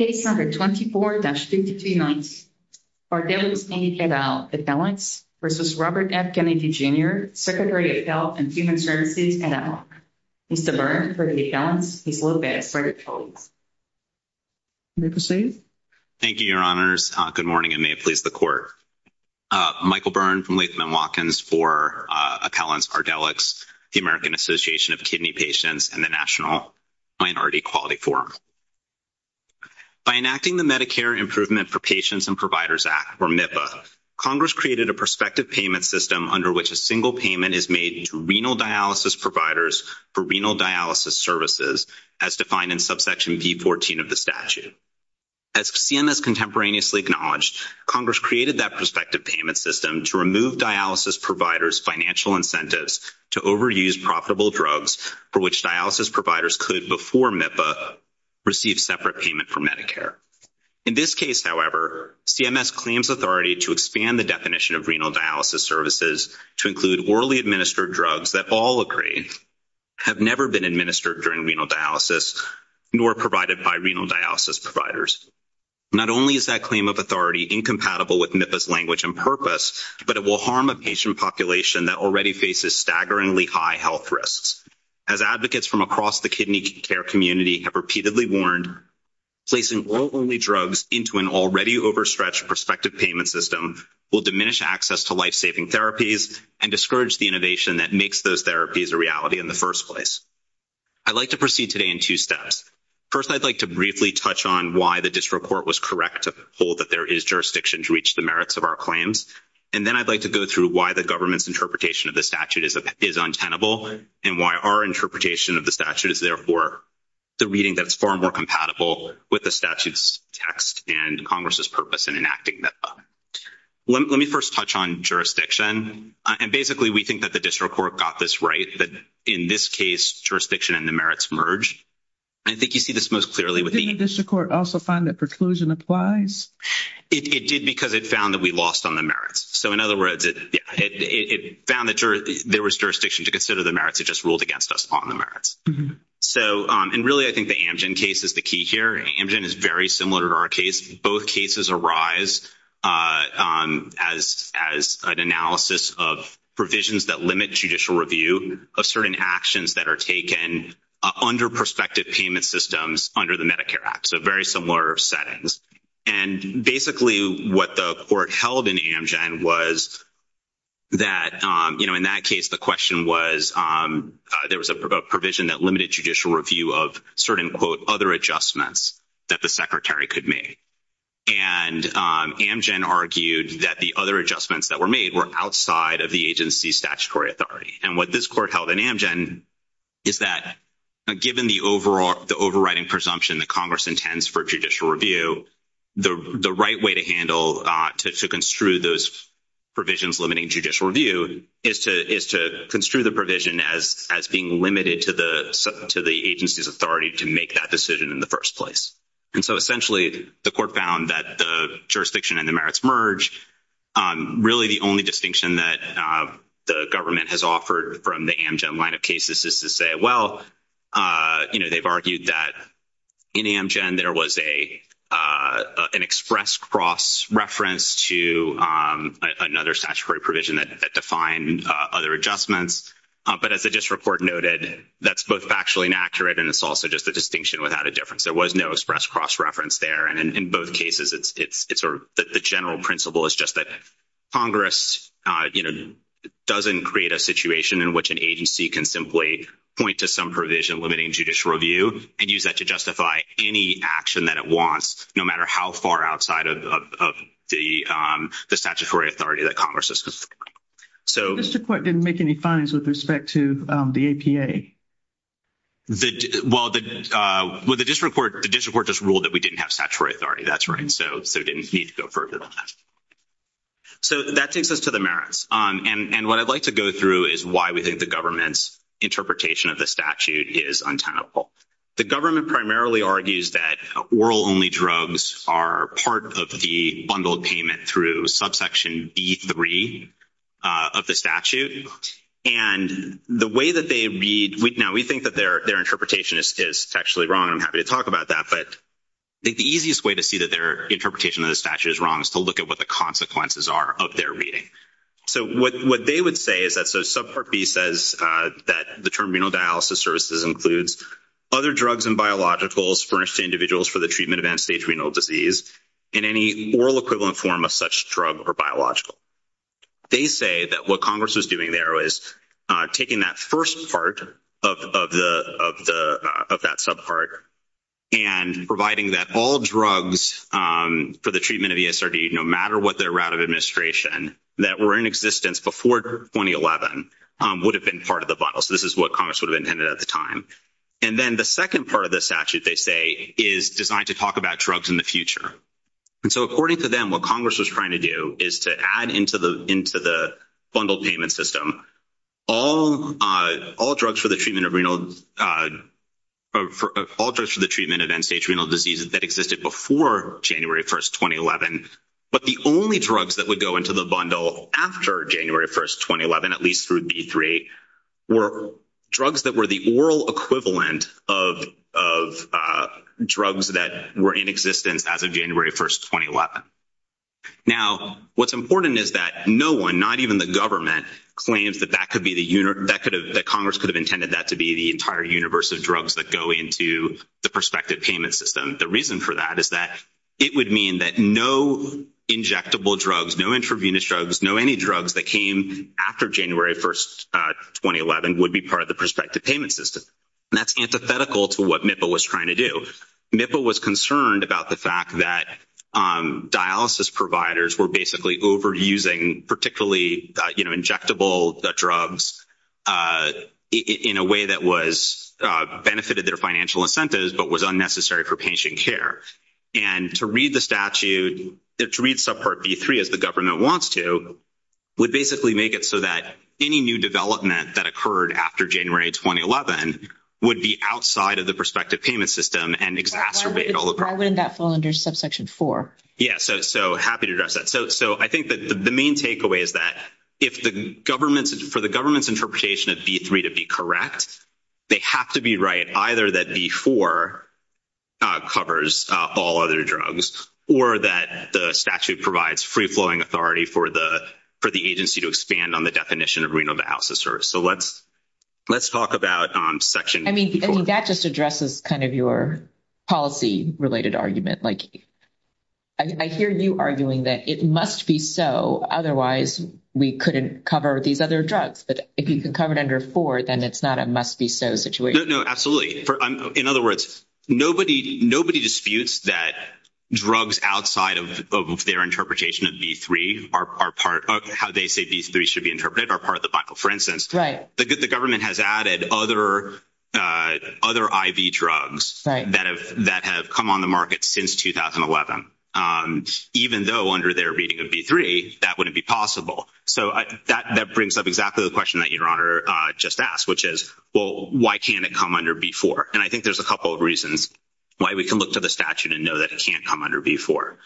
Secretary of Health and Human Services, NL. Mr. Byrne, for the accountants, is located at Ferguson. May I proceed? Thank you, Your Honors. Good morning, and may it please the Court. Michael Byrne, from Leisman & Watkins, for accountants, Ardelyx, the American Association of Kidney Patients, and the National Minority Equality Forum. By enacting the Medicare Improvement for Patients and Providers Act, or MIPPA, Congress created a prospective payment system under which a single payment is made to renal dialysis providers for renal dialysis services, as defined in subsection B14 of the statute. As CMS contemporaneously acknowledged, Congress created that prospective payment system to remove dialysis providers' financial incentives to overuse profitable drugs for which dialysis providers could, before MIPPA, receive separate payment from Medicare. In this case, however, CMS claims authority to expand the definition of renal dialysis services to include orally administered drugs that all agreed have never been administered during renal dialysis nor provided by renal dialysis providers. Not only is that claim of authority incompatible with MIPPA's language and purpose, but it will harm a patient population that already faces staggeringly high health risks. As advocates from across the kidney care community have repeatedly warned, placing oral-only drugs into an already overstretched prospective payment system will diminish access to lifesaving therapies and discourage the innovation that makes those therapies a reality in the first place. I'd like to proceed today in two steps. First, I'd like to briefly touch on why the district court was correct to hold that there is jurisdiction to reach the merits of our claims. And then I'd like to go through why the government's interpretation of the statute is untenable and why our interpretation of the statute is, therefore, the reading that's far more compatible with the statute's text and Congress's purpose in enacting MIPPA. Let me first touch on jurisdiction. Basically, we think that the district court got this right that, in this case, jurisdiction and the merits merge. I think you see this most clearly. Didn't the district court also find that preclusion applies? It did because it found that we lost on the merits. So, in other words, it found that there was jurisdiction to consider the merits. It just ruled against us on the merits. Really, I think the Amgen case is the key here. Amgen is very similar to our case. Both cases arise as an analysis of provisions that limit judicial review of certain actions that are taken under prospective payment systems under the Medicare Act. So, very similar settings. And, basically, what the court held in Amgen was that, you know, in that case, the question was there was a provision that limited judicial review of certain, quote, other adjustments that the secretary could make. And Amgen argued that the other adjustments that were made were outside of the agency's statutory authority. And what this court held in Amgen is that, given the overriding presumption that Congress intends for judicial review, the right way to handle to construe those provisions limiting judicial review is to construe the provision as being limited to the agency's authority to make that decision in the first place. And so, essentially, the court found that the jurisdiction and the merits merge. Really, the only distinction that the government has offered from the Amgen line of cases is to say, well, you know, they've argued that in Amgen there was an express cross-reference to another statutory provision that defined other adjustments. But as the district court noted, that's both factually inaccurate and it's also just a distinction without a difference. There was no express cross-reference there. And in both cases, it's a general principle. It's just that Congress, you know, doesn't create a situation in which an agency can simply point to some provision limiting judicial review and use that to justify any action that it wants, no matter how far outside of the statutory authority that Congress has defined. The district court didn't make any fines with respect to the APA. Well, the district court just ruled that we didn't have statutory authority. That's right. So, there didn't need to go further than that. So, that takes us to the merits. And what I'd like to go through is why we think the government's interpretation of the statute is untenable. The government primarily argues that oral-only drugs are part of the bundled payment through subsection B3 of the statute. And the way that they read—now, we think that their interpretation is sexually wrong. I'm happy to talk about that. But I think the easiest way to see that their interpretation of the statute is wrong is to look at what the consequences are of their reading. So, what they would say is that subpart B says that the term renal dialysis services includes other drugs and biologicals furnished to individuals for the treatment of end-stage renal disease in any oral equivalent form of such drug or biological. They say that what Congress was doing there was taking that first part of that subpart and providing that all drugs for the treatment of ESRD, no matter what their route of administration, that were in existence before 2011, would have been part of the bundle. So, this is what Congress would have intended at the time. And then the second part of the statute, they say, is designed to talk about drugs in the future. And so, according to them, what Congress was trying to do is to add into the bundled payment system all drugs for the treatment of end-stage renal diseases that existed before January 1, 2011, but the only drugs that would go into the bundle after January 1, 2011, at least through B3, were drugs that were the oral equivalent of drugs that were in existence as of January 1, 2011. Now, what's important is that no one, not even the government, claims that Congress could have intended that to be the entire universe of drugs that go into the prospective payment system. The reason for that is that it would mean that no injectable drugs, no intravenous drugs, no any drugs that came after January 1, 2011, would be part of the prospective payment system. And that's antithetical to what NIFA was trying to do. NIFA was concerned about the fact that dialysis providers were basically overusing particularly injectable drugs in a way that benefited their financial incentives but was unnecessary for patient care. And to read the statute, to read subpart B3 as the government wants to, would basically make it so that any new development that occurred after January 2, 2011 would be outside of the prospective payment system and exacerbate all the problems. Why wouldn't that fall under subsection 4? Yeah, so happy to address that. So I think that the main takeaway is that for the government's interpretation of B3 to be correct, they have to be right either that B4 covers all other drugs or that the statute provides free-flowing authority for the agency to expand on the definition of renal dialysis service. So let's talk about section 4. I mean, that just addresses kind of your policy-related argument. I hear you arguing that it must be so, otherwise we couldn't cover these other drugs. But if you can cover it under 4, then it's not a must-be-so situation. No, no, absolutely. In other words, nobody disputes that drugs outside of their interpretation of B3 are part of – how they say B3 should be interpreted are part of the Bible. For instance, the government has added other IV drugs that have come on the market since 2011. Even though under their reading of B3, that wouldn't be possible. So that brings up exactly the question that Your Honor just asked, which is, well, why can't it come under B4? And I think there's a couple of reasons why we can look to the statute and know that it can't come under B4.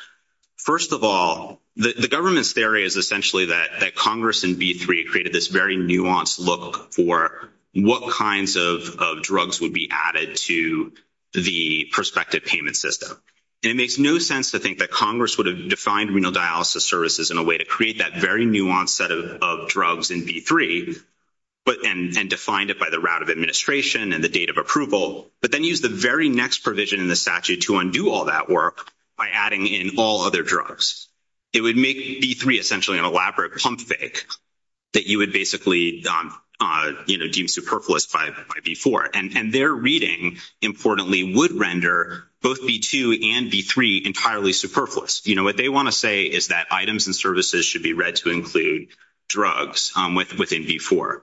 First of all, the government's theory is essentially that Congress in B3 created this very nuanced look for what kinds of drugs would be added to the prospective payment system. And it makes no sense to think that Congress would have defined renal dialysis services in a way to create that very nuanced set of drugs in B3 and defined it by the route of administration and the date of approval, but then used the very next provision in the statute to undo all that work by adding in all other drugs. It would make B3 essentially an elaborate pump fake that you would basically give superfluous by B4. And their reading, importantly, would render both B2 and B3 entirely superfluous. You know, what they want to say is that items and services should be read to include drugs within B4.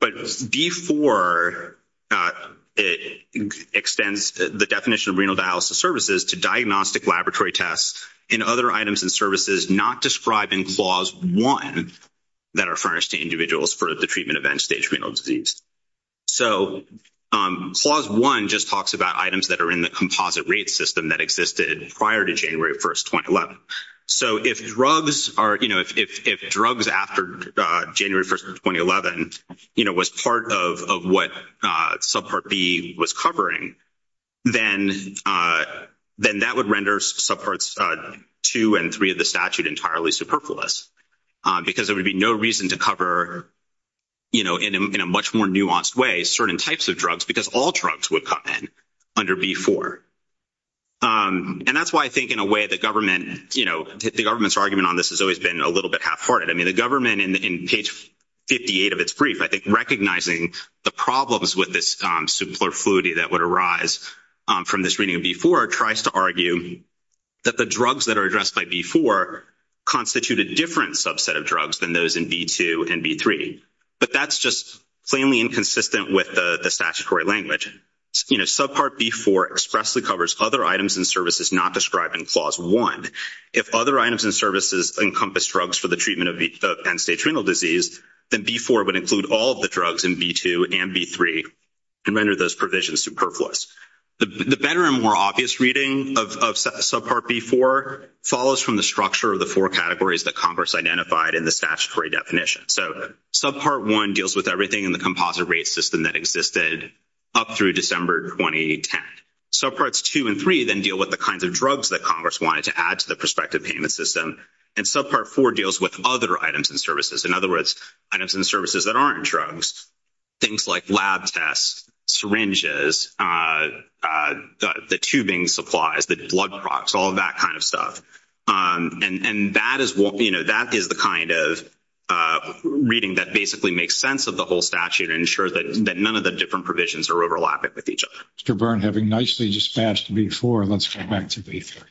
But B4 extends the definition of renal dialysis services to diagnostic laboratory tests and other items and services not described in Clause 1 that are furnished to individuals for the treatment of end-stage renal disease. So Clause 1 just talks about items that are in the composite rate system that existed prior to January 1, 2011. So if drugs after January 1, 2011 was part of what Subpart B was covering, then that would render Subparts 2 and 3 of the statute entirely superfluous because there would be no reason to cover, you know, in a much more nuanced way, certain types of drugs because all drugs would come in under B4. And that's why I think in a way the government, you know, the government's argument on this has always been a little bit half-hearted. I mean, the government in page 58 of its brief, I think, recognizing the problems with this superfluity that would arise from this reading of B4, tries to argue that the drugs that are addressed by B4 constitute a different subset of drugs than those in B2 and B3. But that's just plainly inconsistent with the statutory language. You know, Subpart B4 expressly covers other items and services not described in Clause 1. If other items and services encompass drugs for the treatment of end-stage renal disease, then B4 would include all of the drugs in B2 and B3 and render those provisions superfluous. The better and more obvious reading of Subpart B4 follows from the structure of the four categories that Congress identified in the statutory definition. So Subpart 1 deals with everything in the composite rate system that existed up through December 2010. Subparts 2 and 3 then deal with the kinds of drugs that Congress wanted to add to the prospective payment system. And Subpart 4 deals with other items and services, in other words, items and services that aren't drugs, things like lab tests, syringes, the tubing supplies, the blood products, all that kind of stuff. And that is the kind of reading that basically makes sense of the whole statute and ensures that none of the different provisions are overlapping with each other. Mr. Byrne, having nicely dispatched B4, let's go back to B3.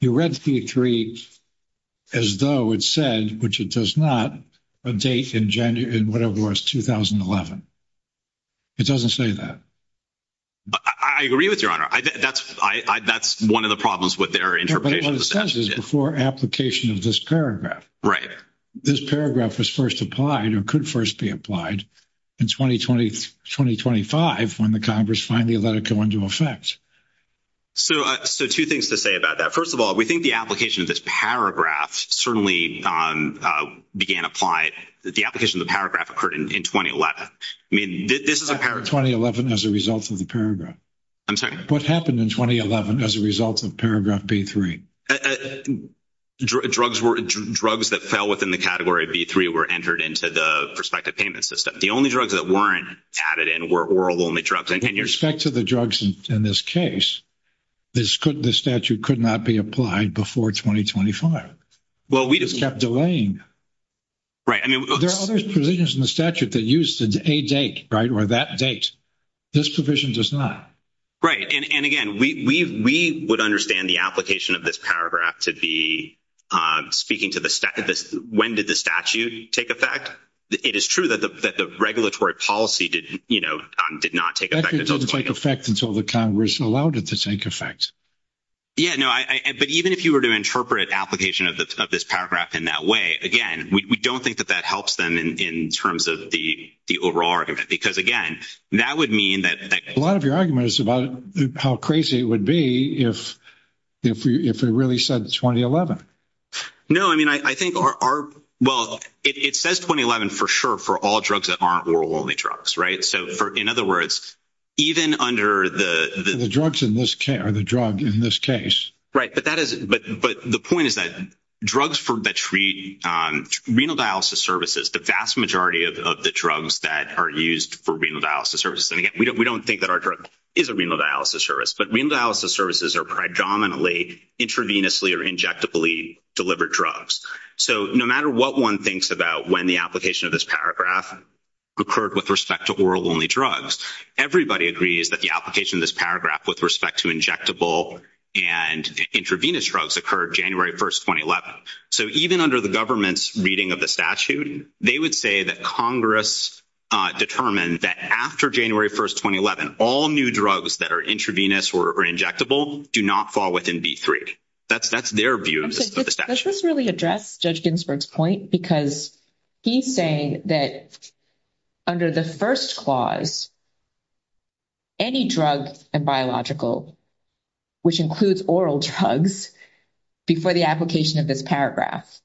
You read B3 as though it said, which it does not, a date in whatever was 2011. It doesn't say that. I agree with you, Your Honor. That's one of the problems with their interpretation of the statute. But what it says is before application of this paragraph. Right. This paragraph was first applied or could first be applied in 2020-2025 when the Congress finally let it go into effect. So two things to say about that. First of all, we think the application of this paragraph certainly began to apply. The application of the paragraph occurred in 2011. I mean, this is a paragraph. 2011 as a result of the paragraph. I'm sorry? What happened in 2011 as a result of paragraph B3? Drugs that fell within the category B3 were entered into the prospective payment system. The only drugs that weren't added in were oral-only drugs. In respect to the drugs in this case, this statute could not be applied before 2025. Well, we just kept delaying. Right. I mean, there are other provisions in the statute that used a date, right, or that date. This provision does not. Right. And, again, we would understand the application of this paragraph to be speaking to when did the statute take effect. It is true that the regulatory policy, you know, did not take effect. It didn't take effect until the Congress allowed it to take effect. Yeah, no, but even if you were to interpret application of this paragraph in that way, again, we don't think that that helps them in terms of the overall argument because, again, that would mean that... A lot of your argument is about how crazy it would be if it really says 2011. No. I mean, I think our... Well, it says 2011 for sure for all drugs that aren't oral-only drugs, right? So, in other words, even under the... The drugs in this... Or the drug in this case. Right, but that is... But the point is that drugs that treat renal dialysis services, the vast majority of the drugs that are used for renal dialysis services. And, again, we don't think that our drug is a renal dialysis service, but renal dialysis services are predominantly intravenously or injectably delivered drugs. So, no matter what one thinks about when the application of this paragraph occurred with respect to oral-only drugs, everybody agrees that the application of this paragraph with respect to injectable and intravenous drugs occurred January 1, 2011. So, even under the government's reading of the statute, they would say that Congress determined that after January 1, 2011, all new drugs that are intravenous or injectable do not fall within B-3. That's their view of the statute. Let's just really address Judge Ginsburg's point, because he's saying that under the first clause, any drug in biological, which includes oral drugs, before the application of this paragraph.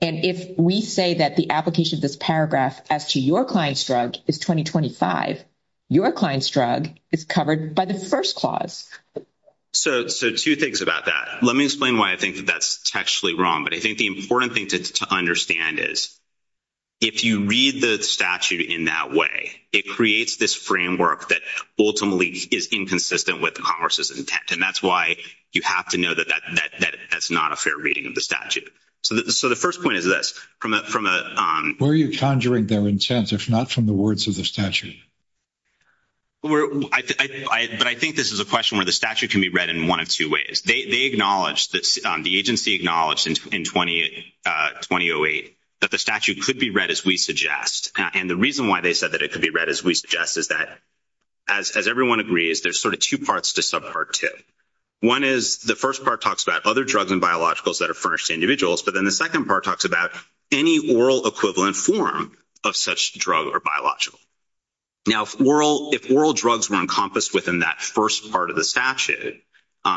And if we say that the application of this paragraph as to your client's drug is 2025, your client's drug is covered by the first clause. So, two things about that. Let me explain why I think that that's textually wrong, but I think the important thing to understand is if you read the statute in that way, it creates this framework that ultimately is inconsistent with Congress's intent. And that's why you have to know that that's not a fair reading of the statute. So, the first point is this. Where are you conjuring their intent, if not from the words of the statute? But I think this is a question where the statute can be read in one of two ways. They acknowledged, the agency acknowledged in 2008 that the statute could be read as we suggest. And the reason why they said that it could be read as we suggest is that, as everyone agrees, there's sort of two parts to subpart two. One is the first part talks about other drugs and biologicals that have furnished individuals, but then the second part talks about any oral equivalent form of such drug or biological. Now, if oral drugs were encompassed within that first part of the statute,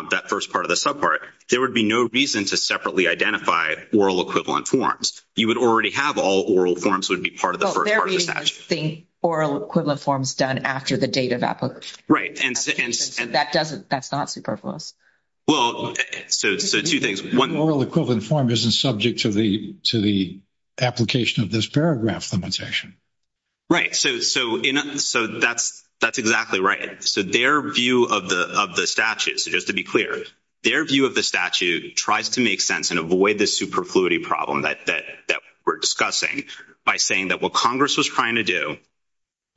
that first part of the subpart, there would be no reason to separately identify oral equivalent forms. You would already have all oral forms would be part of the first part of the statute. The oral equivalent form is done after the date of application. Right. That's not superfluous. Well, so two things. One, oral equivalent form isn't subject to the application of this paragraph limitation. Right. So, that's exactly right. So, their view of the statute, just to be clear, their view of the statute tries to make sense and avoid the superfluity problem that we're discussing by saying that what Congress was trying to do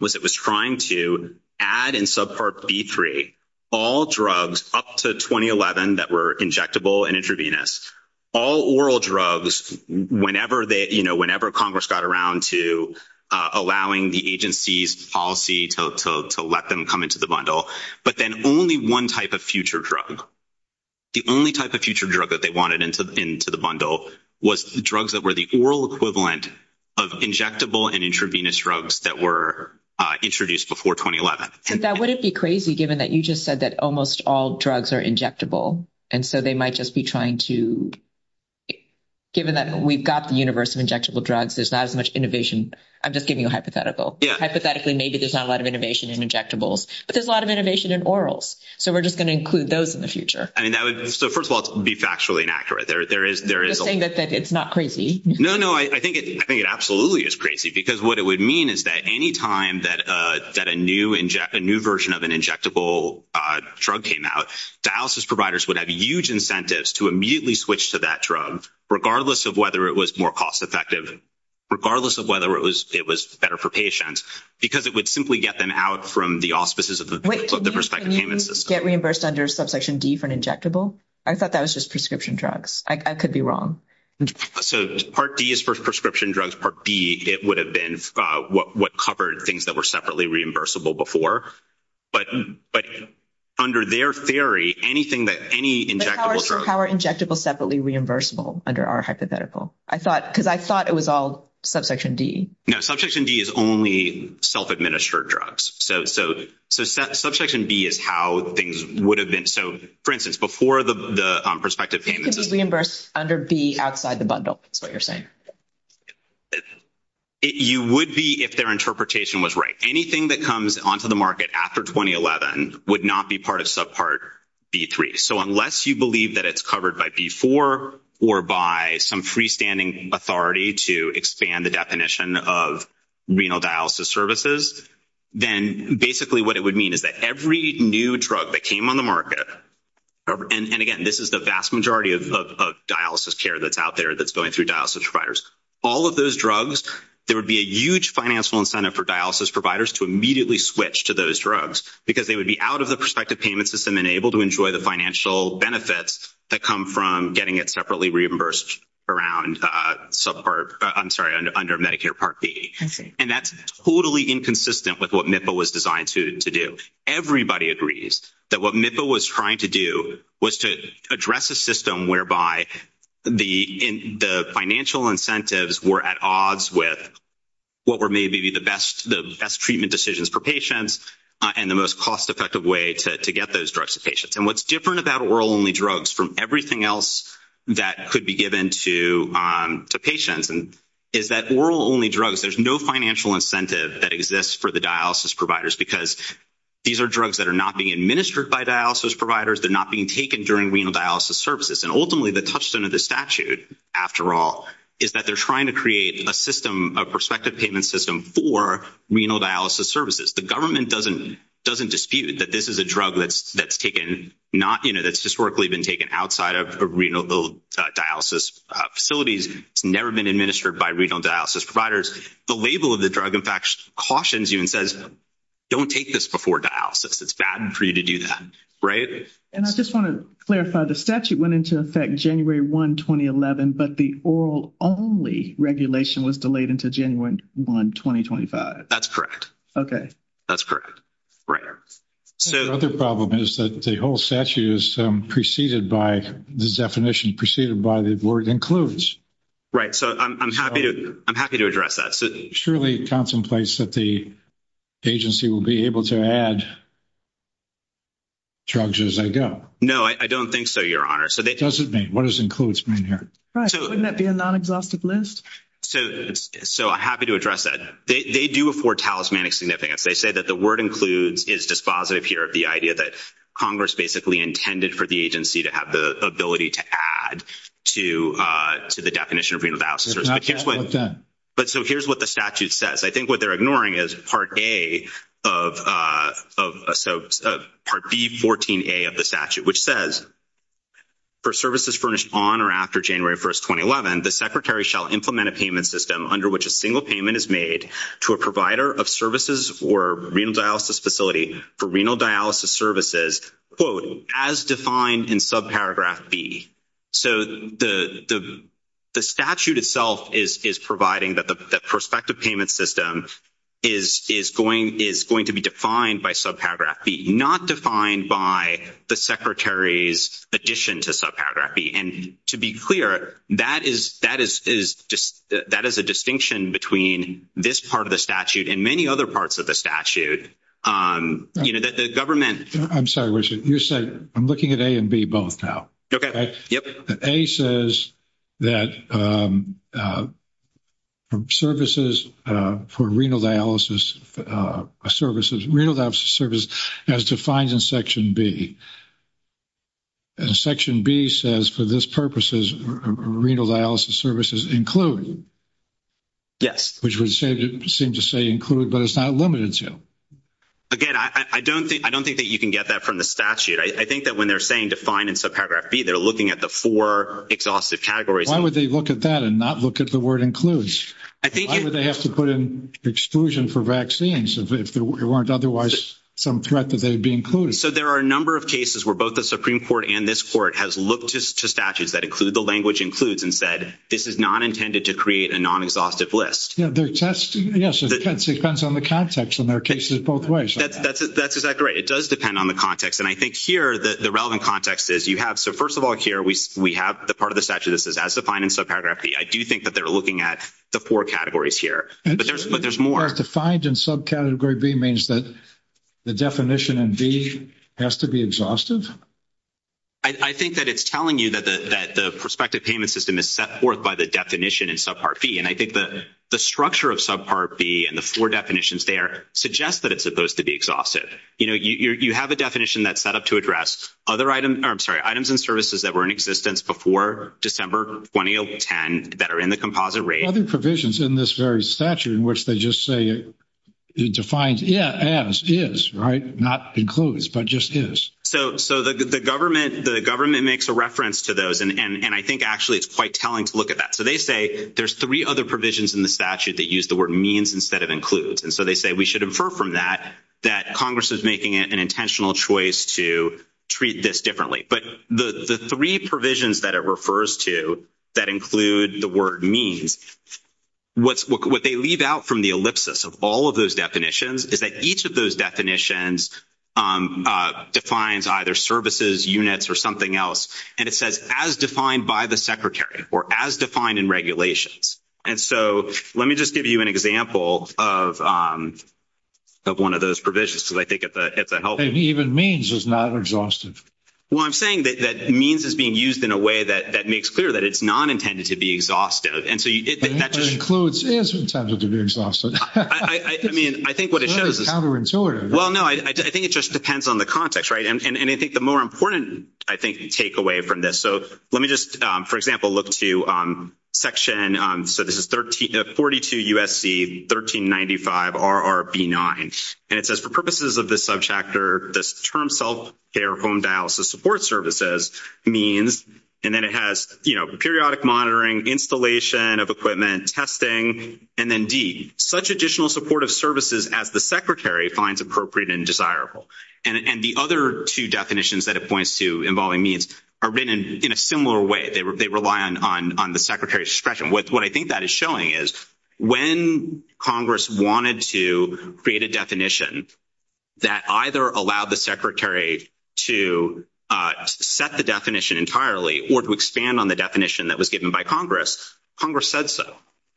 was it was trying to add in subpart B3 all drugs up to 2011 that were injectable and intravenous, all oral drugs whenever Congress got around to allowing the agency's policy to let them come into the bundle, but then only one type of future drug. The only type of future drug that they wanted into the bundle was drugs that were the oral equivalent of injectable and intravenous drugs that were introduced before 2011. But that wouldn't be crazy given that you just said that almost all drugs are injectable, and so they might just be trying to, given that we've got the universe of injectable drugs, there's not as much innovation. I'm just giving you a hypothetical. Hypothetically, maybe there's not a lot of innovation in injectables, but there's a lot of innovation in orals. So we're just going to include those in the future. So first of all, it's factually inaccurate. You're saying that it's not crazy? No, no. I think it absolutely is crazy because what it would mean is that any time that a new version of an injectable drug came out, dialysis providers would have huge incentives to immediately switch to that drug, regardless of whether it was more cost effective, regardless of whether it was better for patients, because it would simply get them out from the auspices of the prescription payment system. Wait, didn't we get reimbursed under Subsection D for an injectable? I thought that was just prescription drugs. I could be wrong. So Part D is for prescription drugs. Part B, it would have been what covered things that were separately reimbursable before. But under their theory, anything that any injectable drug – How are injectables separately reimbursable under our hypothetical? Because I thought it was all Subsection D. No, Subsection D is only self-administered drugs. So Subsection D is how things would have been. So, for instance, before the prospective payment system – It could be reimbursed under B outside the bundle is what you're saying. You would be if their interpretation was right. Anything that comes onto the market after 2011 would not be part of Subpart B3. So unless you believe that it's covered by B4 or by some freestanding authority to expand the definition of renal dialysis services, then basically what it would mean is that every new drug that came on the market – And, again, this is the vast majority of dialysis care that's out there that's going through dialysis providers. All of those drugs, there would be a huge financial incentive for dialysis providers to immediately switch to those drugs because they would be out of the prospective payment system and able to enjoy the financial benefits that come from getting it separately reimbursed under Medicare Part B. And that's totally inconsistent with what NIFA was designed to do. Everybody agrees that what NIFA was trying to do was to address a system whereby the financial incentives were at odds with what were maybe the best treatment decisions for patients and the most cost-effective way to get those drugs to patients. And what's different about oral-only drugs from everything else that could be given to patients is that oral-only drugs, there's no financial incentive that exists for the dialysis providers because these are drugs that are not being administered by dialysis providers. They're not being taken during renal dialysis services. And, ultimately, the touchstone of the statute, after all, is that they're trying to create a system, a prospective payment system for renal dialysis services. The government doesn't dispute that this is a drug that's historically been taken outside of renal dialysis facilities. It's never been administered by renal dialysis providers. The label of the drug, in fact, cautions you and says, don't take this before dialysis. It's bad for you to do that, right? And I just want to clarify, the statute went into effect January 1, 2011, but the oral-only regulation was delayed until January 1, 2025. That's correct. Okay. That's correct. Right. The other problem is that the whole statute is preceded by the definition preceded by the board includes. Right. So I'm happy to address that. It surely contemplates that the agency will be able to add drugs as they go. No, I don't think so, Your Honor. What does includes mean here? Wouldn't that be a non-exhaustive list? So I'm happy to address that. They do afford talismanic significance. They say that the word includes is dispositive here of the idea that Congress basically intended for the agency to have the ability to add to the definition of renal dialysis. But so here's what the statute says. I think what they're ignoring is Part A of Part B14A of the statute, which says, for services furnished on or after January 1, 2011, the Secretary shall implement a payment system under which a single payment is made to a provider of services or renal dialysis facility for renal dialysis services, quote, as defined in subparagraph B. So the statute itself is providing that the prospective payment system is going to be defined by subparagraph B, not defined by the Secretary's addition to subparagraph B. And to be clear, that is a distinction between this part of the statute and many other parts of the statute. I'm sorry, Richard. I'm looking at A and B both now. Okay. Yep. A says that services for renal dialysis services, renal dialysis services, as defined in Section B. And Section B says, for this purposes, renal dialysis services included. Yes. Which would seem to say include, but it's not limited to. Again, I don't think that you can get that from the statute. I think that when they're saying define in subparagraph B, they're looking at the four exhaustive categories. Why would they look at that and not look at the word includes? Why would they have to put in exclusion for vaccines if there weren't otherwise some threat that they would be included? So there are a number of cases where both the Supreme Court and this Court has looked to statutes that include the language includes and said this is not intended to create a non-exhaustive list. Yes, it depends on the context in their cases both ways. That's exactly right. It does depend on the context. And I think here the relevant context is you have, so first of all, here we have the part of the statute that says, as defined in subparagraph B. I do think that they're looking at the four categories here. But there's more. Defined in subcategory B means that the definition in B has to be exhaustive? I think that it's telling you that the prospective payment system is set forth by the definition in subpart B. And I think the structure of subpart B and the four definitions there suggest that it's supposed to be exhaustive. You have a definition that's set up to address items and services that were in existence before December 2010 that are in the composite rate. Other provisions in this very statute in which they just say it defines as is, right, not includes, but just is. So the government makes a reference to those, and I think actually it's quite telling to look at that. So they say there's three other provisions in the statute that use the word means instead of includes. And so they say we should infer from that that Congress is making an intentional choice to treat this differently. But the three provisions that it refers to that include the word means, what they leave out from the ellipsis of all of those definitions is that each of those definitions defines either services, units, or something else, and it says as defined by the Secretary or as defined in regulations. And so let me just give you an example of one of those provisions because I think it's a helpful. And even means is not exhaustive. Well, I'm saying that means is being used in a way that makes clear that it's not intended to be exhaustive. Includes is intended to be exhaustive. I mean, I think what it shows is. It's counterintuitive. Well, no, I think it just depends on the context, right? And I think the more important, I think, takeaway from this. So let me just, for example, look to section. So this is 42 U.S.C. 1395 RRB 9, and it says for purposes of this subchapter, this term self-care home dialysis support services means, and then it has, you know, periodic monitoring, installation of equipment, testing, and then D, such additional supportive services as the Secretary finds appropriate and desirable. And the other two definitions that it points to involving means are written in a similar way. They rely on the Secretary's discretion. What I think that is showing is when Congress wanted to create a definition that either allowed the Secretary to set the definition entirely or to expand on the definition that was given by Congress, Congress said so.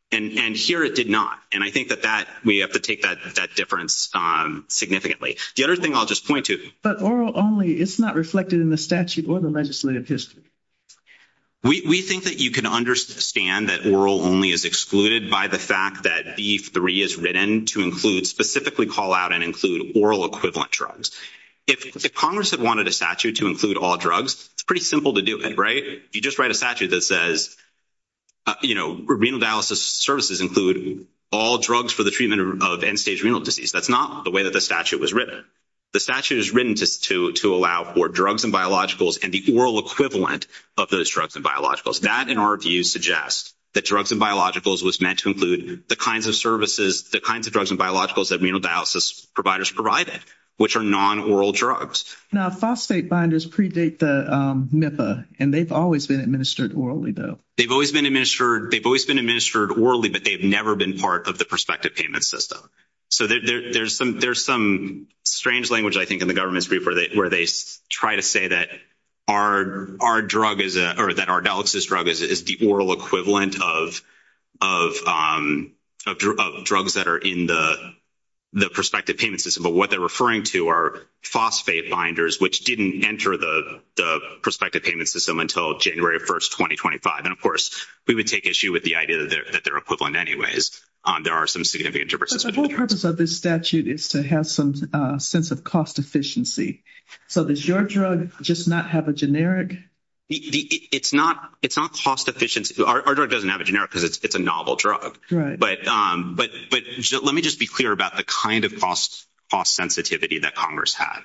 And here it did not. And I think that we have to take that difference significantly. The other thing I'll just point to. But oral only, it's not reflected in the statute or the legislative history. We think that you can understand that oral only is excluded by the fact that B3 is written to include, specifically call out and include oral equivalent drugs. If Congress had wanted a statute to include all drugs, it's pretty simple to do it, right? You just write a statute that says, you know, renal dialysis services include all drugs for the treatment of end-stage renal disease. That's not the way that the statute was written. The statute is written to allow for drugs and biologicals and the oral equivalent of those drugs and biologicals. That, in our view, suggests that drugs and biologicals was meant to include the kinds of services, the kinds of drugs and biologicals that renal dialysis providers provided, which are non-oral drugs. Now, phosphate binders predate the MIFA, and they've always been administered orally, though. They've always been administered orally, but they've never been part of the prospective payment system. So there's some strange language, I think, in the government's brief where they try to say that our drug is, or that our dialysis drug is the oral equivalent of drugs that are in the prospective payment system, but what they're referring to are phosphate binders, which didn't enter the prospective payment system until January 1st, 2025. And, of course, we would take issue with the idea that they're equivalent anyways. There are some significant differences. So the whole purpose of this statute is to have some sense of cost efficiency. So does your drug just not have a generic? It's not cost efficient. Our drug doesn't have a generic because it's a novel drug. Right. But let me just be clear about the kind of cost sensitivity that Congress had.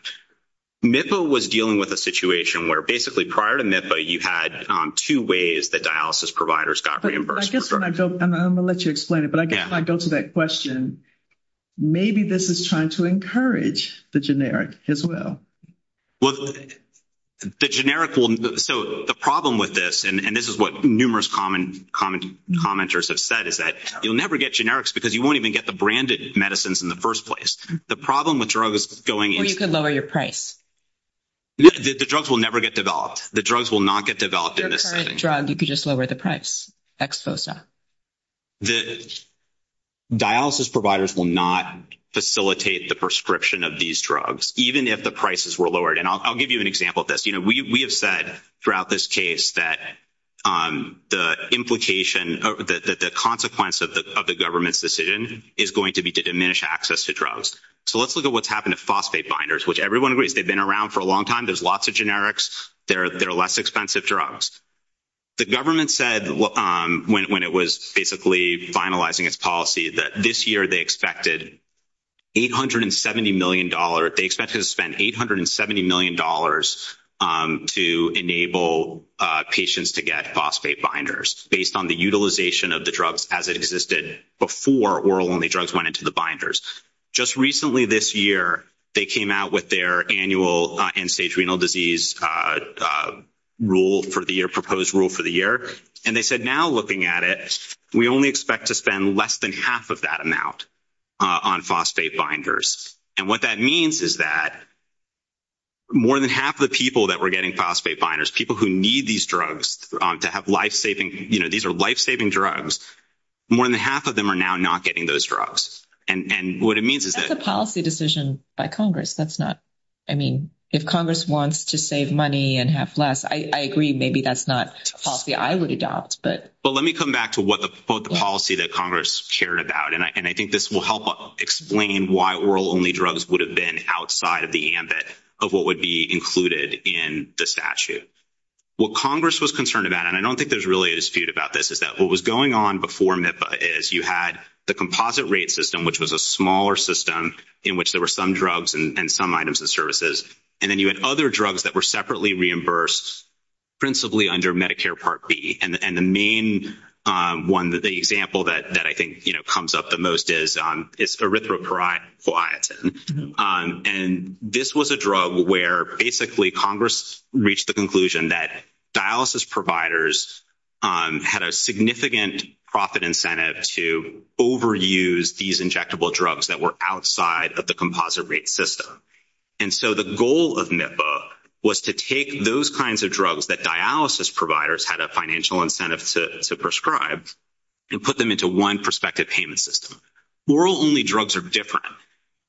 MIFA was dealing with a situation where, basically, prior to MIFA, you had two ways that dialysis providers got reimbursed for drugs. I'm going to let you explain it, but I guess when I go to that question, maybe this is trying to encourage the generic as well. Well, the generic will—so the problem with this, and this is what numerous commenters have said, is that you'll never get generics because you won't even get the branded medicines in the first place. The problem with drugs going— And you could lower your price. The drugs will never get developed. The drugs will not get developed in this setting. With the current drug, you could just lower the price, exposa. The dialysis providers will not facilitate the prescription of these drugs, even if the prices were lowered. And I'll give you an example of this. You know, we have said throughout this case that the implication— the consequence of the government's decision is going to be to diminish access to drugs. So let's look at what's happened to phosphate binders, which everyone agrees. They've been around for a long time. There's lots of generics. They're less expensive drugs. The government said, when it was basically finalizing its policy, that this year they expected $870 million— they expected to spend $870 million to enable patients to get phosphate binders, based on the utilization of the drugs as it existed before oral-only drugs went into the binders. Just recently this year, they came out with their annual end-stage renal disease rule for the year, proposed rule for the year, and they said, now looking at it, we only expect to spend less than half of that amount on phosphate binders. And what that means is that more than half the people that were getting phosphate binders, people who need these drugs to have life-saving—you know, these are life-saving drugs— more than half of them are now not getting those drugs. And what it means is that— That's a policy decision by Congress. That's not—I mean, if Congress wants to save money and have less, I agree. Maybe that's not a policy I would adopt, but— Well, let me come back to what the policy that Congress cared about, and I think this will help explain why oral-only drugs would have been outside of the ambit of what would be included in the statute. What Congress was concerned about, and I don't think there's really a dispute about this, is that what was going on before MIPA is you had the composite rate system, which was a smaller system in which there were some drugs and some items and services, and then you had other drugs that were separately reimbursed principally under Medicare Part B. And the main one, the example that I think comes up the most is erythropoietin. And this was a drug where basically Congress reached the conclusion that dialysis providers had a significant profit incentive to overuse these injectable drugs that were outside of the composite rate system. And so the goal of MIPA was to take those kinds of drugs that dialysis providers had a financial incentive to prescribe and put them into one prospective payment system. Oral-only drugs are different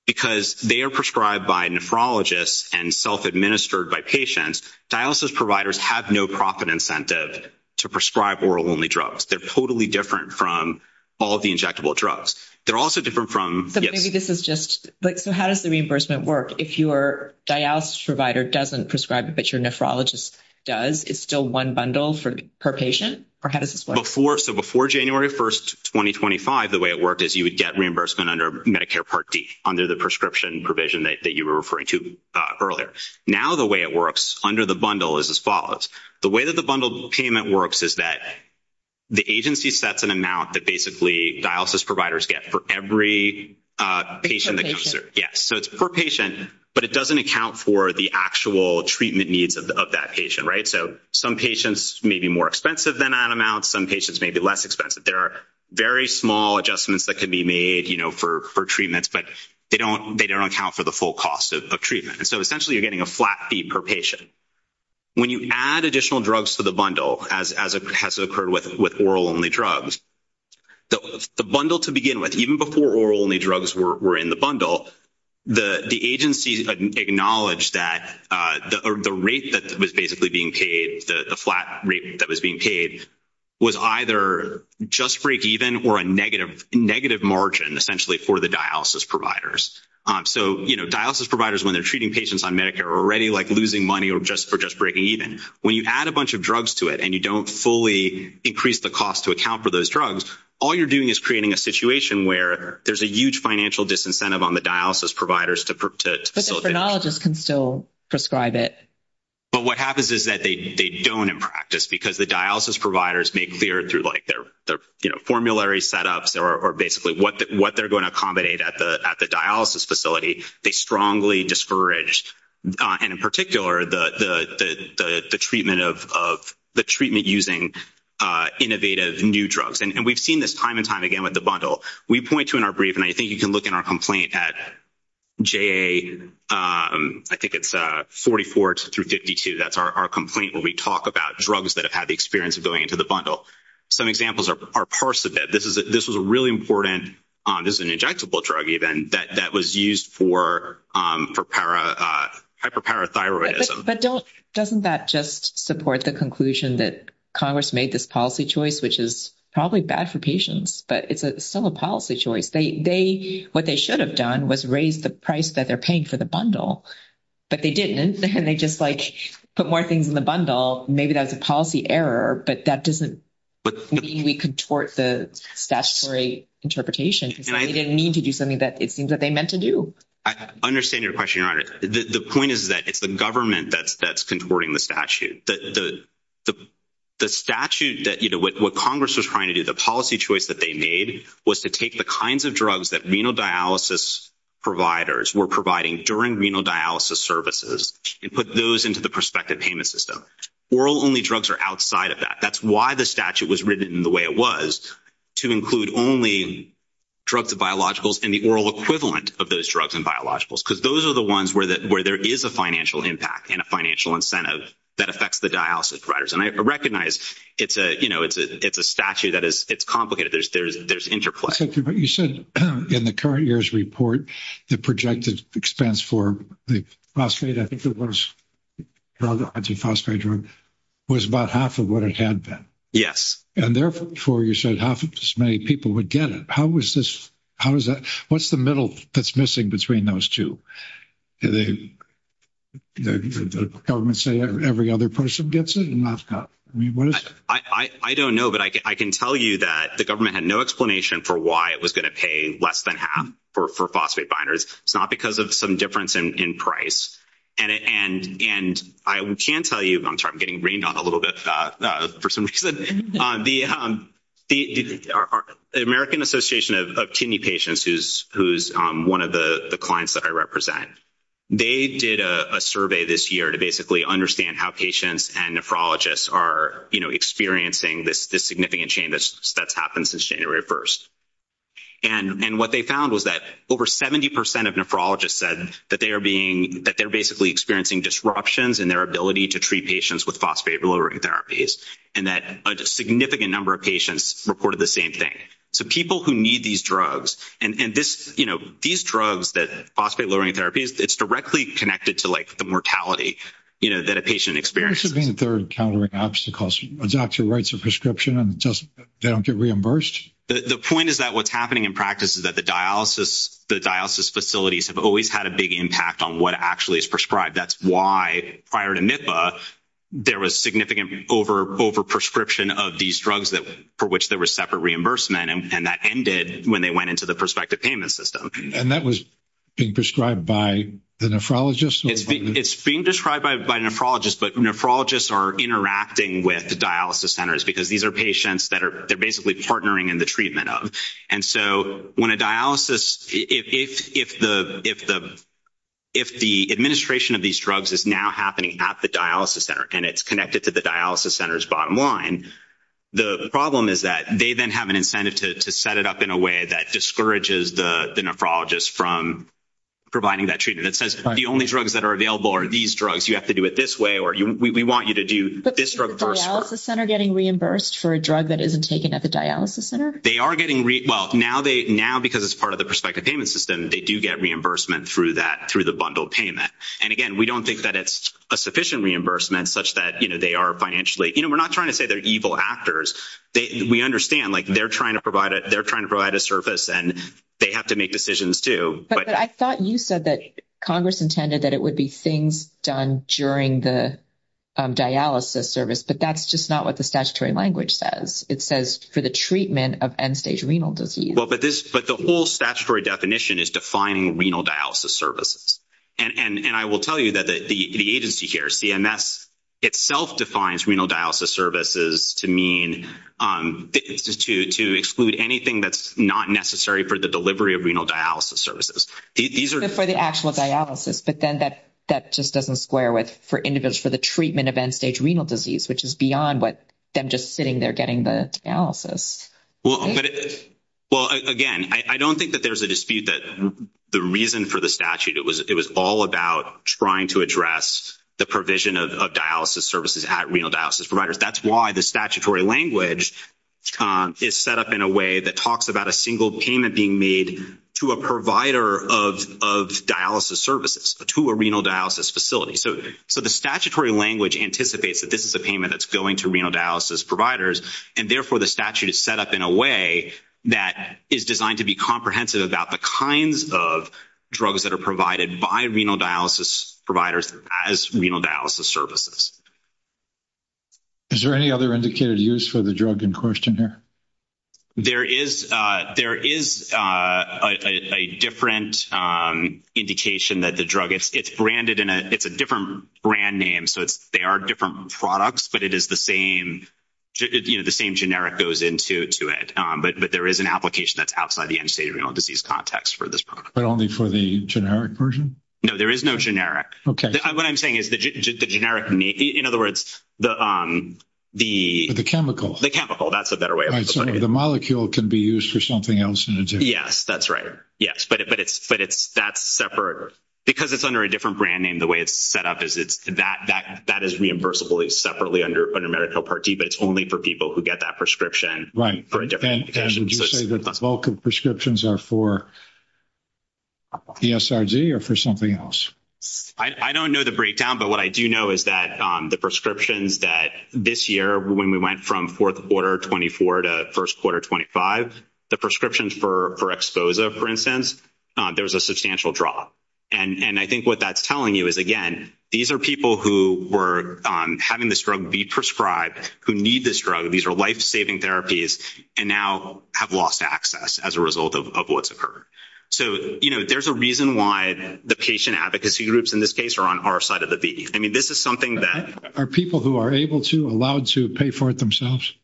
because they are prescribed by nephrologists and self-administered by patients. Dialysis providers have no profit incentive to prescribe oral-only drugs. They're totally different from all the injectable drugs. They're also different from— So maybe this is just—so how does the reimbursement work? If your dialysis provider doesn't prescribe it but your nephrologist does, it's still one bundle per patient? Or how does this work? So before January 1, 2025, the way it worked is you would get reimbursement under Medicare Part D, under the prescription provision that you were referring to earlier. Now the way it works under the bundle is as follows. The way that the bundle payment works is that the agency sets an amount that basically dialysis providers get for every patient that comes through. Yes, so it's per patient, but it doesn't account for the actual treatment needs of that patient, right? So some patients may be more expensive than that amount. Some patients may be less expensive. There are very small adjustments that can be made, you know, for treatment, but they don't account for the full cost of treatment. And so essentially you're getting a flat fee per patient. When you add additional drugs to the bundle, as has occurred with oral-only drugs, the bundle to begin with, even before oral-only drugs were in the bundle, the agency acknowledged that the rate that was basically being paid, the flat rate that was being paid, was either just break even or a negative margin, essentially, for the dialysis providers. So, you know, dialysis providers, when they're treating patients on Medicare, are already, like, losing money or just breaking even. When you add a bunch of drugs to it and you don't fully increase the cost to account for those drugs, all you're doing is creating a situation where there's a huge financial disincentive on the dialysis providers to facilitate. But the dialysist can still prescribe it. But what happens is that they don't in practice because the dialysis providers may clear through, like, their, you know, formulary setups or basically what they're going to accommodate at the dialysis facility. They strongly discourage, and in particular, the treatment using innovative new drugs. And we've seen this time and time again with the bundle. We point to in our brief, and I think you can look in our complaint at JA, I think it's 44 through 52, that's our complaint where we talk about drugs that have had the experience of going into the bundle. Some examples are Parsivib. This was a really important, this is an injectable drug even, that was used for hyperthyroidism. But doesn't that just support the conclusion that Congress made this policy choice, which is probably bad for patients, but it's still a policy choice. What they should have done was raise the price that they're paying for the bundle. But they didn't, and they just, like, put more things in the bundle. Maybe that was a policy error, but that doesn't mean we contort the statutory interpretation. They didn't mean to do something that it seems that they meant to do. I understand your question, Your Honor. The point is that it's the government that's contorting the statute. The statute that, you know, what Congress was trying to do, the policy choice that they made, was to take the kinds of drugs that renal dialysis providers were providing during renal dialysis services and put those into the prospective payment system. Oral-only drugs are outside of that. That's why the statute was written the way it was, to include only drugs and biologicals and the oral equivalent of those drugs and biologicals, because those are the ones where there is a financial impact and a financial incentive that affects the dialysis providers. And I recognize, you know, it's a statute that is complicated. There's interplay. But you said in the current year's report, the projected expense for the phosphate, I think it was called the hydroxyl phosphate drug, was about half of what it had been. Yes. And therefore, you said half as many people would get it. How is this? How is that? What's the middle that's missing between those two? Did the government say every other person gets it? I mean, what is it? I don't know. But I can tell you that the government had no explanation for why it was going to pay less than half for phosphate binders. It's not because of some difference in price. And I can tell you, I'm sorry, I'm getting rained on a little bit for some reason. The American Association of Kidney Patients, who's one of the clients that I represent, they did a survey this year to basically understand how patients and nephrologists are, you know, experiencing this significant change that's happened since January 1st. And what they found was that over 70% of nephrologists said that they're basically experiencing disruptions in their ability to treat patients with phosphate-lowering therapies and that a significant number of patients reported the same thing. So people who need these drugs, and this, you know, these drugs that, phosphate-lowering therapies, it's directly connected to, like, the mortality, you know, that a patient experiences. Do you think they're encountering obstacles? Adopt your rights of prescription and just don't get reimbursed? The point is that what's happening in practice is that the dialysis, the dialysis facilities have always had a big impact on what actually is prescribed. That's why, prior to MIFA, there was significant over-prescription of these drugs for which there was separate reimbursement, and that ended when they went into the prospective payment system. And that was being prescribed by the nephrologists? It's being prescribed by nephrologists, but nephrologists are interacting with the dialysis centers because these are patients that they're basically partnering in the treatment of. And so when a dialysis, if the administration of these drugs is now happening at the dialysis center and it's connected to the dialysis center's bottom line, the problem is that they then have an incentive to set it up in a way that discourages the nephrologists from providing that treatment. It says the only drugs that are available are these drugs, you have to do it this way, or we want you to do this drug first. Is the dialysis center getting reimbursed for a drug that isn't taken at the dialysis center? They are getting reimbursed. Well, now because it's part of the prospective payment system, they do get reimbursement through the bundled payment. And, again, we don't think that it's a sufficient reimbursement such that they are financially – you know, we're not trying to say they're evil actors. We understand, like, they're trying to provide a service and they have to make decisions too. But I thought you said that Congress intended that it would be things done during the dialysis service, but that's just not what the statutory language says. It says for the treatment of end-stage renal disease. Well, but the whole statutory definition is defining renal dialysis services. And I will tell you that the agency here, CMS, itself defines renal dialysis services to mean to exclude anything that's not necessary for the delivery of renal dialysis services. For the actual dialysis, but then that just doesn't square with for the treatment of end-stage renal disease, which is beyond what them just sitting there getting the dialysis. Well, again, I don't think that there's a dispute that the reason for the statute, it was all about trying to address the provision of dialysis services at renal dialysis providers. That's why the statutory language is set up in a way that talks about a single payment being made to a provider of dialysis services, to a renal dialysis facility. So the statutory language anticipates that this is a payment that's going to renal dialysis providers, and therefore the statute is set up in a way that is designed to be comprehensive about the kinds of drugs that are provided by renal dialysis providers as renal dialysis services. Is there any other indicated use for the drug in question here? There is a different indication that the drug is branded in a different brand name. So they are different products, but it is the same generic goes into it. But there is an application that's outside the end-stage renal disease context for this product. But only for the generic version? No, there is no generic. Okay. What I'm saying is the generic, in other words, the chemical. The chemical. That's a better way of putting it. So the molecule can be used for something else in addition. Yes, that's right. Yes. But that's separate. Because it's under a different brand name, the way it's set up is that is reimbursable separately under medical Part D, but it's only for people who get that prescription. Right. And would you say that the bulk of prescriptions are for ESRG or for something else? I don't know the breakdown, but what I do know is that the prescriptions that this year, when we went from fourth quarter 24 to first quarter 25, the prescriptions for Exposa, for instance, there was a substantial drop. And I think what that's telling you is, again, these are people who were having this drug be prescribed, who need this drug. These are life-saving therapies and now have lost access as a result of what's occurred. So, you know, there's a reason why the patient advocacy groups in this case are on our side of the beach. Are people who are able to, allowed to pay for it themselves?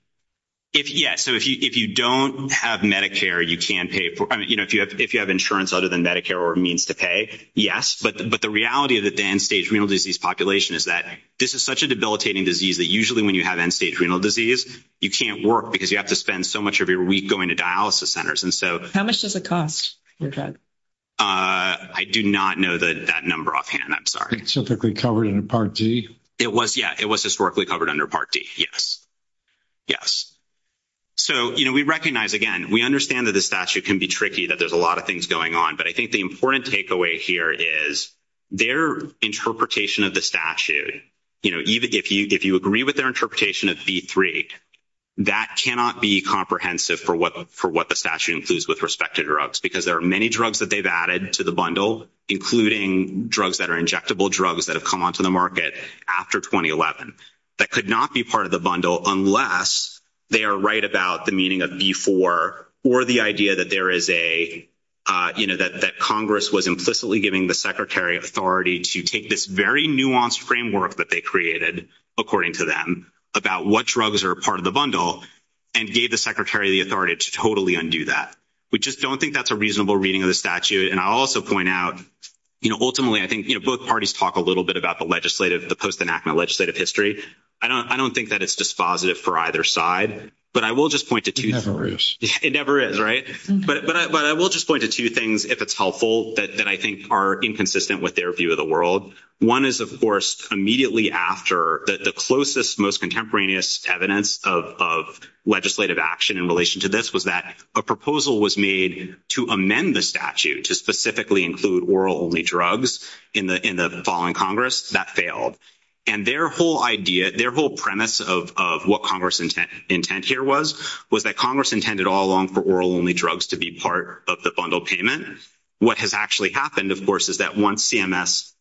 So if you don't have Medicare, you can pay for it. If you have insurance other than Medicare or means to pay, yes. But the reality is that the end-stage renal disease population is that this is such a debilitating disease that usually when you have end-stage renal disease, you can't work because you have to spend so much of your week going to dialysis centers. How much does it cost? I do not know that number offhand. I'm sorry. Was it historically covered in Part D? It was, yeah. It was historically covered under Part D, yes. Yes. So, you know, we recognize, again, we understand that the statute can be tricky, that there's a lot of things going on, but I think the important takeaway here is their interpretation of the statute, you know, even if you agree with their interpretation of V3, that cannot be comprehensive for what the statute includes with respect to drugs because there are many drugs that they've added to the bundle, including drugs that are injectable drugs that have come onto the market after 2011, that could not be part of the bundle unless they are right about the meaning of V4 or the idea that there is a, you know, that Congress was implicitly giving the Secretary authority to take this very nuanced framework that they created, according to them, about what drugs are part of the bundle and gave the Secretary the authority to totally undo that. We just don't think that's a reasonable reading of the statute. And I'll also point out, you know, ultimately, I think both parties talk a little bit about the legislative, the post-enactment legislative history. I don't think that it's dispositive for either side, but I will just point to two things. It never is. It never is, right? But I will just point to two things if it's helpful that I think are inconsistent with their view of the world. One is, of course, immediately after the closest, most contemporaneous evidence of legislative action in relation to this was that a proposal was made to amend the statute to specifically include oral-only drugs in the fall in Congress. That failed. And their whole idea, their whole premise of what Congress's intent here was, was that Congress intended all along for oral-only drugs to be part of the bundle payment. What has actually happened, of course, is that once CMS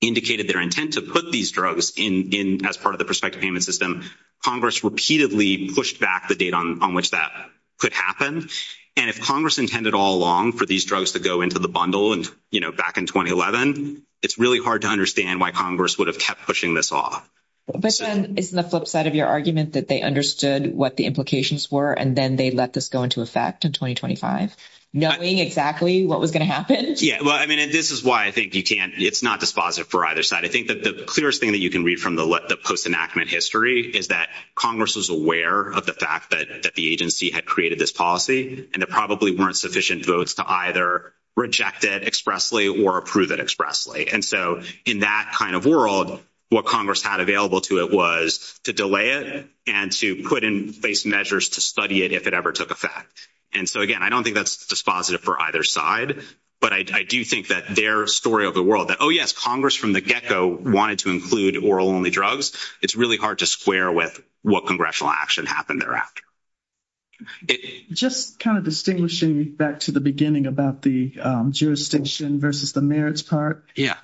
indicated their intent to put these drugs as part of the prospective payment system, Congress repeatedly pushed back the date on which that could happen. And if Congress intended all along for these drugs to go into the bundle, you know, back in 2011, it's really hard to understand why Congress would have kept pushing this off. But then isn't the flip side of your argument that they understood what the implications were and then they let this go into effect in 2025, knowing exactly what was going to happen? Yeah, well, I mean, and this is why I think you can't – it's not dispositive for either side. I think that the clearest thing that you can read from the post-enactment history is that Congress was aware of the fact that the agency had created this policy and there probably weren't sufficient votes to either reject it expressly or approve it expressly. And so in that kind of world, what Congress had available to it was to delay it and to put in place measures to study it if it ever took effect. And so, again, I don't think that's dispositive for either side. But I do think that their story of the world that, oh, yes, Congress from the get-go wanted to include oral-only drugs, it's really hard to square with what congressional action happened thereafter. Just kind of distinguishing back to the beginning about the jurisdiction versus the merits part. Yeah.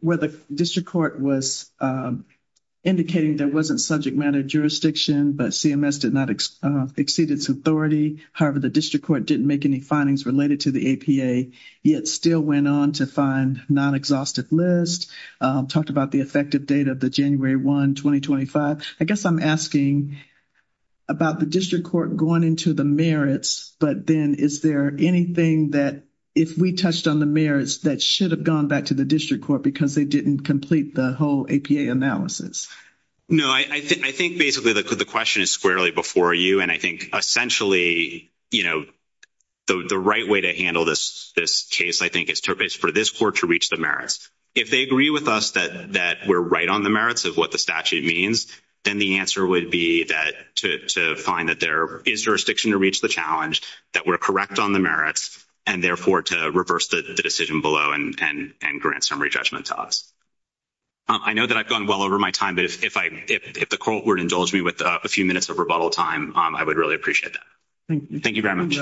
Where the district court was indicating there wasn't subject matter jurisdiction, but CMS did not exceed its authority. However, the district court didn't make any findings related to the APA, yet still went on to find non-exhaustive lists, talked about the effective date of the January 1, 2025. I guess I'm asking about the district court going into the merits, but then is there anything that if we touched on the merits that should have gone back to the district court because they didn't complete the whole APA analysis? No. I think basically the question is squarely before you. I think essentially the right way to handle this case, I think, is for this court to reach the merits. If they agree with us that we're right on the merits of what the statute means, then the answer would be to find that there is jurisdiction to reach the challenge, that we're correct on the merits, and therefore to reverse the decision below and grant summary judgment to us. I know that I've gone well over my time, but if the court were to indulge me with a few minutes of rebuttal time, I would really appreciate that. Thank you very much.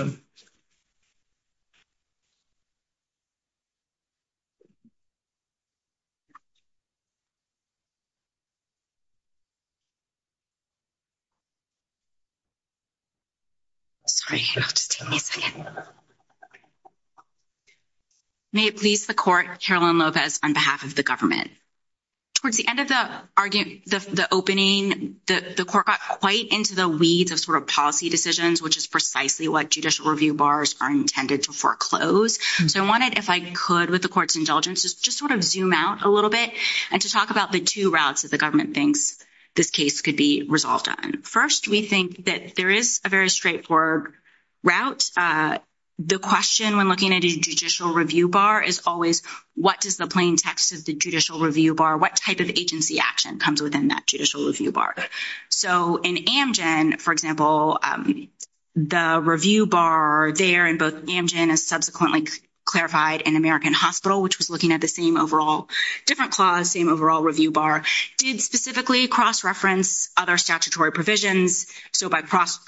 May it please the court, Chairwoman Lopez, on behalf of the government. Towards the end of the opening, the court got quite into the weeds of sort of policy decisions, which is precisely what judicial review bars are intended to foreclose. So I wanted, if I could, with the court's indulgence, just sort of zoom out a little bit and to talk about the two routes that the government thinks this case could be resolved on. First, we think that there is a very straightforward route. The question when looking at a judicial review bar is always, what is the plain text of the judicial review bar? What type of agency action comes within that judicial review bar? So in Amgen, for example, the review bar there in both Amgen and subsequently clarified in American Hospital, which was looking at the same overall different clause, same overall review bar, did specifically cross-reference other statutory provisions. So by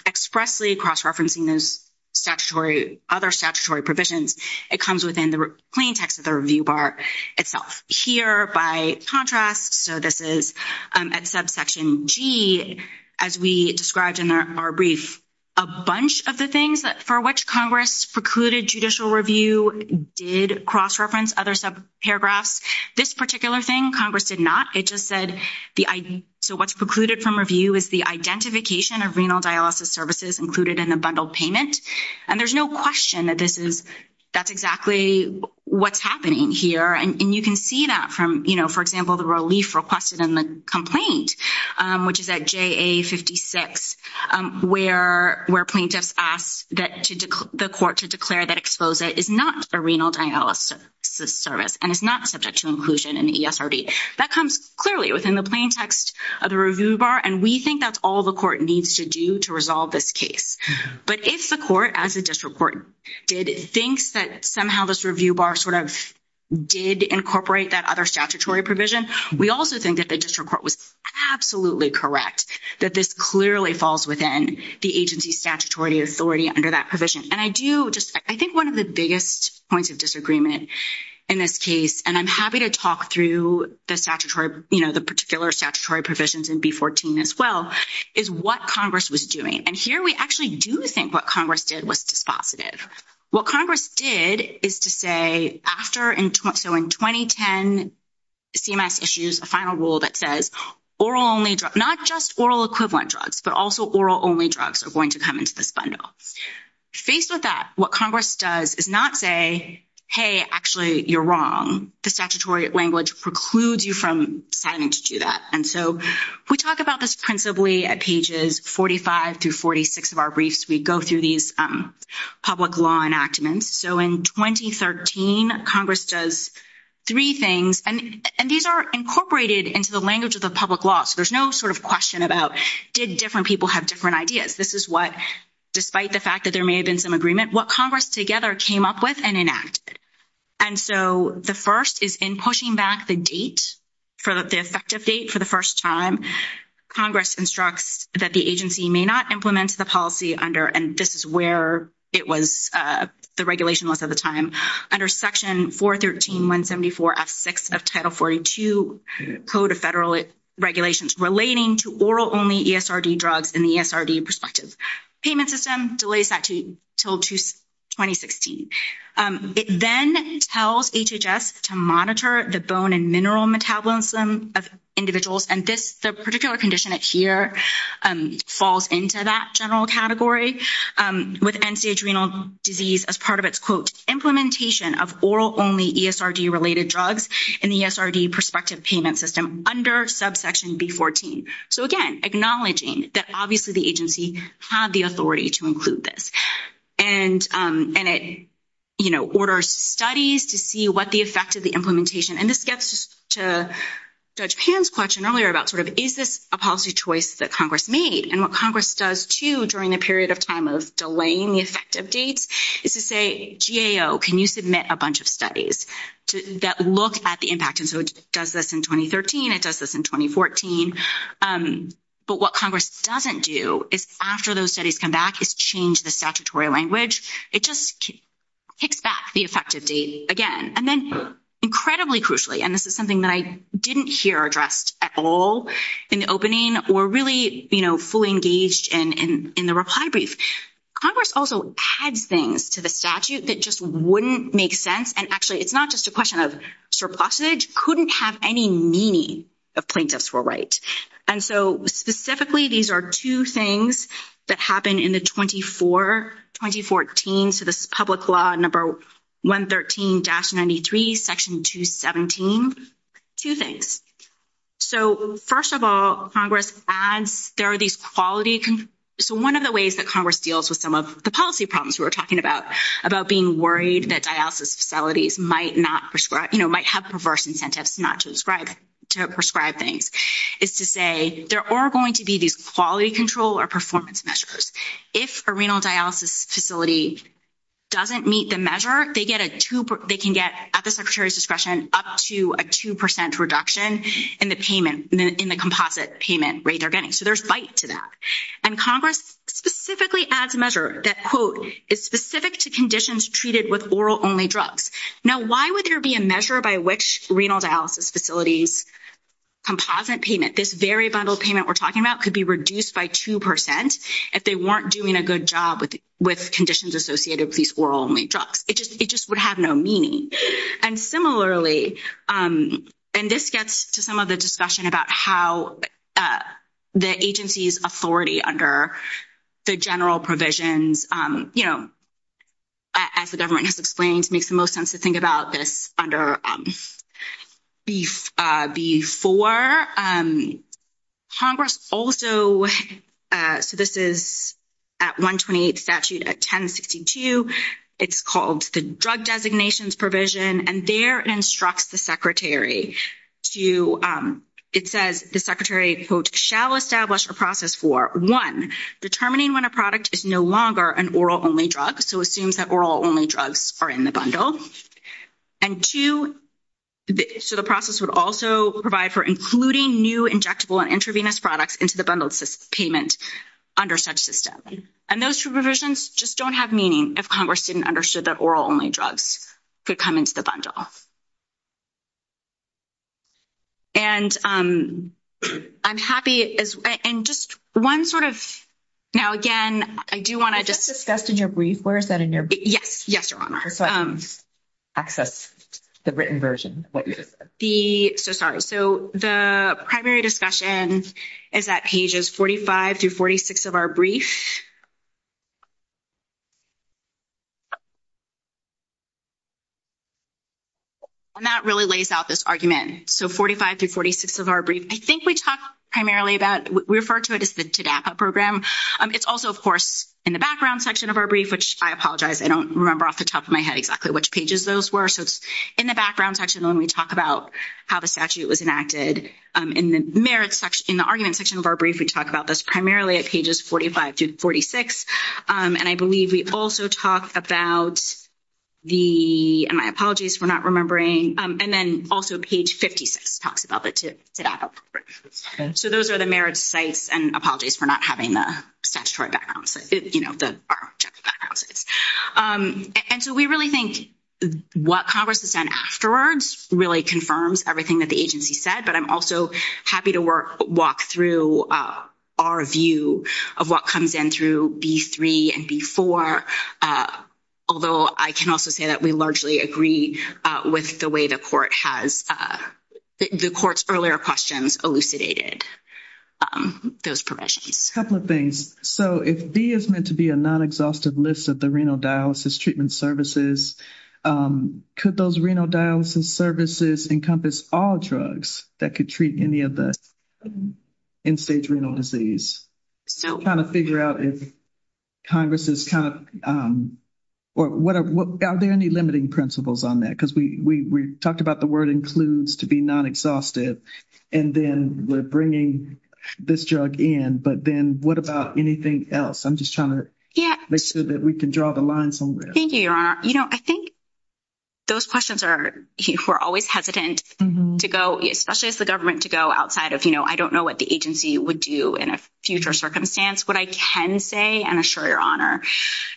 expressly cross-referencing those statutory, other statutory provisions, it comes within the plain text of the review bar itself. Here, by contrast, so this is at subsection G, as we described in our brief, a bunch of the things for which Congress precluded judicial review did cross-reference other subparagraphs. This particular thing, Congress did not. It just said the—so what's precluded from review is the identification of renal dialysis services included in a bundled payment. And there's no question that this is—that's exactly what's happening here. And you can see that from, you know, for example, the relief requested in the complaint, which is at JA-56, where plaintiffs asked the court to declare that EXPOSA is not a renal dialysis service and is not subject to inclusion in the ESRB. That comes clearly within the plain text of the review bar, and we think that's all the court needs to do to resolve this case. But if the court, as the district court did, thinks that somehow this review bar sort of did incorporate that other statutory provision, we also think that the district court was absolutely correct that this clearly falls within the agency's statutory authority under that provision. And I do just—I think one of the biggest points of disagreement in this case, and I'm happy to talk through the statutory—you know, the particular statutory provisions in B-14 as well, is what Congress was doing. And here we actually do think what Congress did was dispositive. What Congress did is to say after—so in 2010, CMS issues a final rule that says oral-only—not just oral-equivalent drugs, but also oral-only drugs are going to come into this bundle. Faced with that, what Congress does is not say, hey, actually, you're wrong. The statutory language precludes you from deciding to do that. And so we talk about this principally at pages 45 through 46 of our briefs. We go through these public law enactments. So in 2013, Congress does three things, and these are incorporated into the language of the public law, so there's no sort of question about did different people have different ideas. This is what, despite the fact that there may have been some agreement, what Congress together came up with and enacted. And so the first is in pushing back the date, the effective date for the first time, Congress instructs that the agency may not implement the policy under—and this is where it was the regulation was at the time— under Section 413.174.F6 of Title 42 Code of Federal Regulations relating to oral-only ESRD drugs in the ESRD perspective. Payment system delays that until 2016. It then tells HHS to monitor the bone and mineral metabolism of individuals, and this particular condition here falls into that general category with end-stage renal disease as part of its, quote, implementation of oral-only ESRD-related drugs in the ESRD perspective payment system under subsection B14. So again, acknowledging that obviously the agency had the authority to include this. And it, you know, orders studies to see what the effect of the implementation— and this gets to Judge Pan's question earlier about sort of is this a policy choice that Congress made, and what Congress does, too, during the period of time of delaying the effective date is to say, GAO, can you submit a bunch of studies that look at the impact? And so it does this in 2013. It does this in 2014. But what Congress doesn't do is after those studies come back, it's changed the statutory language. It just kicks back the effective date again, and then incredibly crucially— and this is something that I didn't hear addressed at all in the opening or really, you know, fully engaged in the reply brief. Congress also adds things to the statute that just wouldn't make sense, and actually it's not just a question of surplusage, couldn't have any meaning if plaintiffs were right. And so specifically, these are two things that happen in the 24—2014 to the public law number 113-93, section 217. Two things. So first of all, Congress adds there are these quality—so one of the ways that Congress deals with some of the policy problems we were talking about, about being worried that dialysis facilities might not prescribe—you know, might have perverse incentives not to prescribe things, is to say there are going to be these quality control or performance measures. If a renal dialysis facility doesn't meet the measure, they get a 2—they can get, at the secretary's discretion, up to a 2% reduction in the payment—in the composite payment rate they're getting. So there's bite to that. And Congress specifically adds a measure that, quote, is specific to conditions treated with oral-only drugs. Now, why would there be a measure by which renal dialysis facilities' composite payment, this very bundled payment we're talking about, could be reduced by 2% if they weren't doing a good job with conditions associated with these oral-only drugs? It just would have no meaning. And similarly—and this gets to some of the discussion about how the agency's authority under the general provisions, you know, as the government has explained, makes the most sense to think about this under—before Congress also— so this is at 128 statute at 1062. It's called the drug designations provision, and there it instructs the secretary to—it says the secretary, quote, shall establish a process for, one, determining when a product is no longer an oral-only drug. So it assumes that oral-only drugs are in the bundle. And two, so the process would also provide for including new injectable and intravenous products into the bundled payment under such systems. And those provisions just don't have meaning if Congress didn't understand that oral-only drugs could come into the bundle. And I'm happy—and just one sort of—now, again, I do want to— That's discussed in your brief, Laura, is that in your brief? Yes. Yes, Your Honor. Access, the written version. The—so sorry. So the primary discussion is at pages 45 through 46 of our brief. And that really lays out this argument. So 45 through 46 of our brief, I think we talked primarily about—we refer to it as the DAPA program. It's also, of course, in the background section of our brief, which I apologize. I don't remember off the top of my head exactly which pages those were. So it's in the background section when we talk about how the statute was enacted. In the merits section—in the argument section of our brief, we talk about this primarily at pages 45 through 46. And I believe we also talked about the—and my apologies for not remembering. And then also page 56 talks about the DAPA program. So those are the merits sites. And I apologize for not having the statutory background. You know, the— And so we really think what Congress has done afterwards really confirms everything that the agency said. But I'm also happy to walk through our view of what comes in through B-3 and B-4, although I can also say that we largely agree with the way the court has—the court's earlier questions elucidated those provisions. A couple of things. So if B is meant to be a non-exhaustive list of the renal dialysis treatment services, could those renal dialysis services encompass all drugs that could treat any of the end-stage renal disease? I'm trying to figure out if Congress is kind of—or what are—are there any limiting principles on that? Because we talked about the word includes to be non-exhaustive, and then we're bringing this drug in. But then what about anything else? I'm just trying to make sure that we can draw the lines on this. Thank you, Your Honor. You know, I think those questions are—we're always hesitant to go, especially as the government, to go outside of, you know, I don't know what the agency would do in a future circumstance. What I can say, and I assure Your Honor,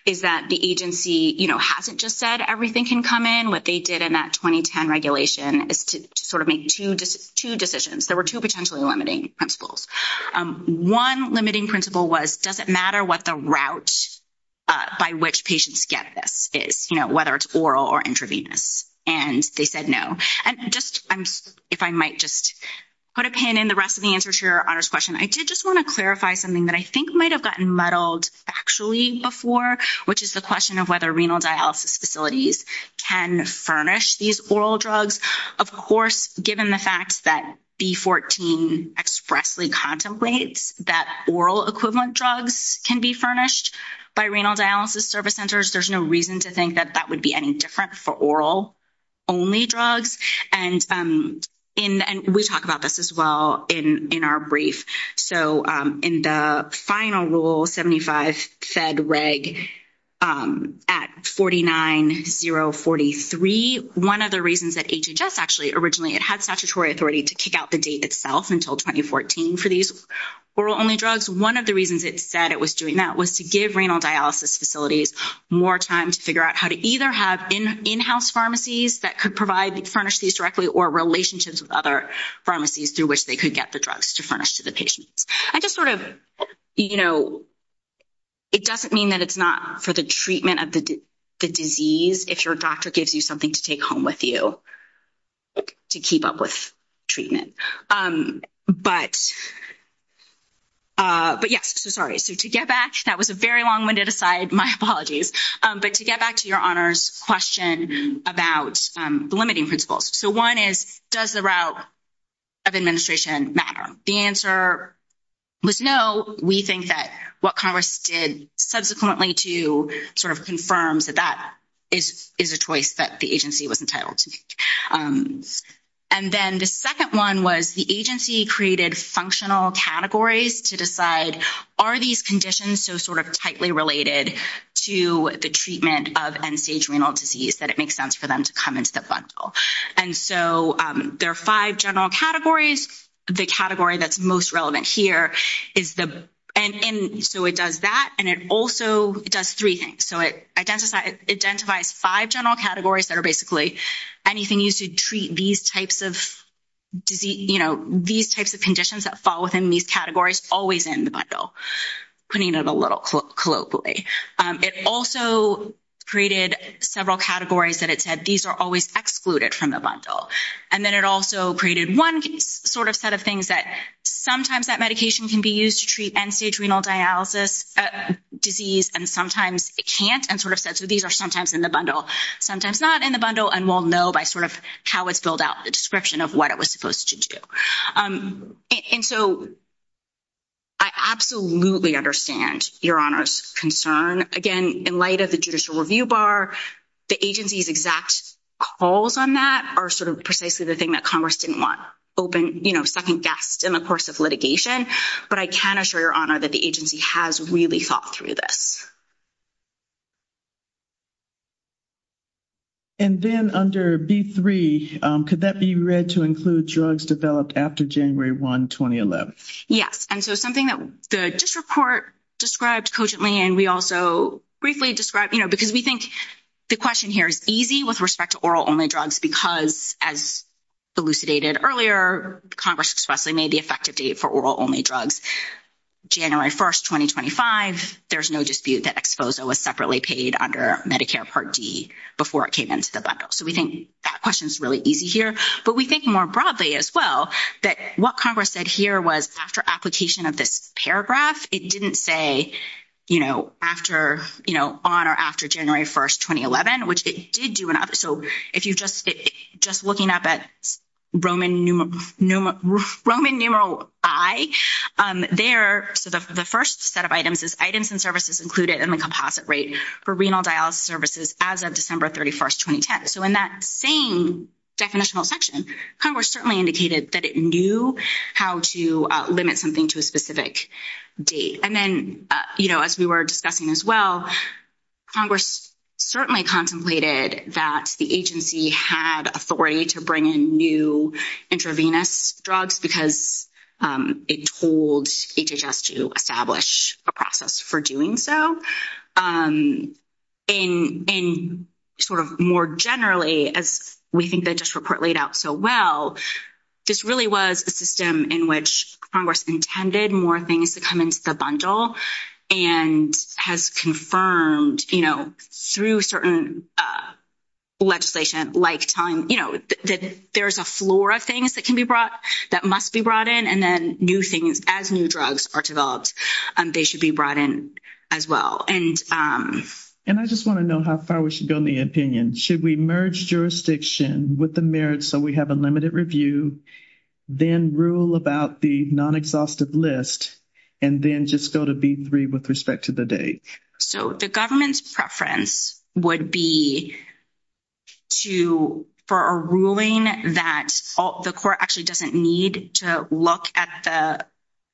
is that the agency, you know, hasn't just said everything can come in. What they did in that 2010 regulation is to sort of make two decisions. There were two potentially limiting principles. One limiting principle was, does it matter what the route by which patients get this is, you know, whether it's oral or intravenous? And they said no. If I might just put a pin in the rest of the answers to Your Honor's question, I did just want to clarify something that I think might have gotten muddled factually before, which is the question of whether renal dialysis facilities can furnish these oral drugs. Of course, given the fact that B14 expressly contemplates that oral equivalent drugs can be furnished by renal dialysis service centers, there's no reason to think that that would be any different for oral-only drugs. And we talk about this as well in our brief. So in the final rule, 75 said reg at 49043. One of the reasons that HHS actually originally had statutory authority to kick out the date itself until 2014 for these oral-only drugs, one of the reasons it said it was doing that was to give renal dialysis facilities more time to figure out how to either have in-house pharmacies that could provide and furnish these directly or relationships with other pharmacies through which they could get the drugs to furnish to the patient. I just sort of, you know, it doesn't mean that it's not for the treatment of the disease, if your doctor gives you something to take home with you to keep up with treatment. But, yes, so sorry. So to get back, that was a very long-winded aside. My apologies. But to get back to your honors question about the limiting principles. So one is, does the route of administration matter? The answer was no. We think that what Congress did subsequently to sort of confirm that that is a choice that the agency was entitled to make. And then the second one was the agency created functional categories to decide, are these conditions so sort of tightly related to the treatment of end-stage renal disease that it makes sense for them to come into the bundle? And so there are five general categories. The category that's most relevant here is the—and so it does that, and it also does three things. So it identifies five general categories that are basically anything used to treat these types of disease—you know, these types of conditions that fall within these categories always in the bundle, putting it in a little colloquially. It also created several categories that it said these are always excluded from the bundle. And then it also created one sort of set of things that sometimes that medication can be used to treat end-stage renal dialysis disease, and sometimes it can't, and sort of says these are sometimes in the bundle, sometimes not in the bundle, and we'll know by sort of how it's built out the description of what it was supposed to do. And so I absolutely understand Your Honor's concern. Again, in light of the judicial review bar, the agency's exact calls on that are sort of precisely the thing that Congress didn't want open, you know, I think that's in the course of litigation, but I can assure Your Honor that the agency has really thought through this. And then under B3, could that be read to include drugs developed after January 1, 2011? Yes, and so something that the district court described cogently, and we also briefly described, you know, because we think the question here is easy with respect to oral-only drugs because, as elucidated earlier, Congress expressly made the effective date for oral-only drugs January 1, 2025. There's no dispute that Exposo was separately paid under Medicare Part D before it came into the bundle. So we think that question's really easy here, but we think more broadly as well that what Congress said here was after application of this paragraph, it didn't say, you know, after, you know, on or after January 1, 2011, which it did do in other. So if you just look at that Roman numeral I there, the first set of items is items and services included in the composite rate for renal dialysis services as of December 31, 2010. So in that same definitional section, Congress certainly indicated that it knew how to limit something to a specific date. And then, you know, as we were discussing as well, Congress certainly contemplated that the agency had authority to bring in new intravenous drugs because it told HHS to establish a process for doing so. And sort of more generally, as we think that this report laid out so well, this really was a system in which Congress intended more things to come into the bundle and has confirmed, you know, through certain legislation like telling, you know, that there's a floor of things that can be brought, that must be brought in, and then new things as new drugs are developed, they should be brought in as well. And I just want to know how far we should go in the opinion. Should we merge jurisdiction with the merits so we have a limited review, then rule about the non-exhaustive list, and then just go to B3 with respect to the date? So the government's preference would be to, for a ruling that the court actually doesn't need to look at the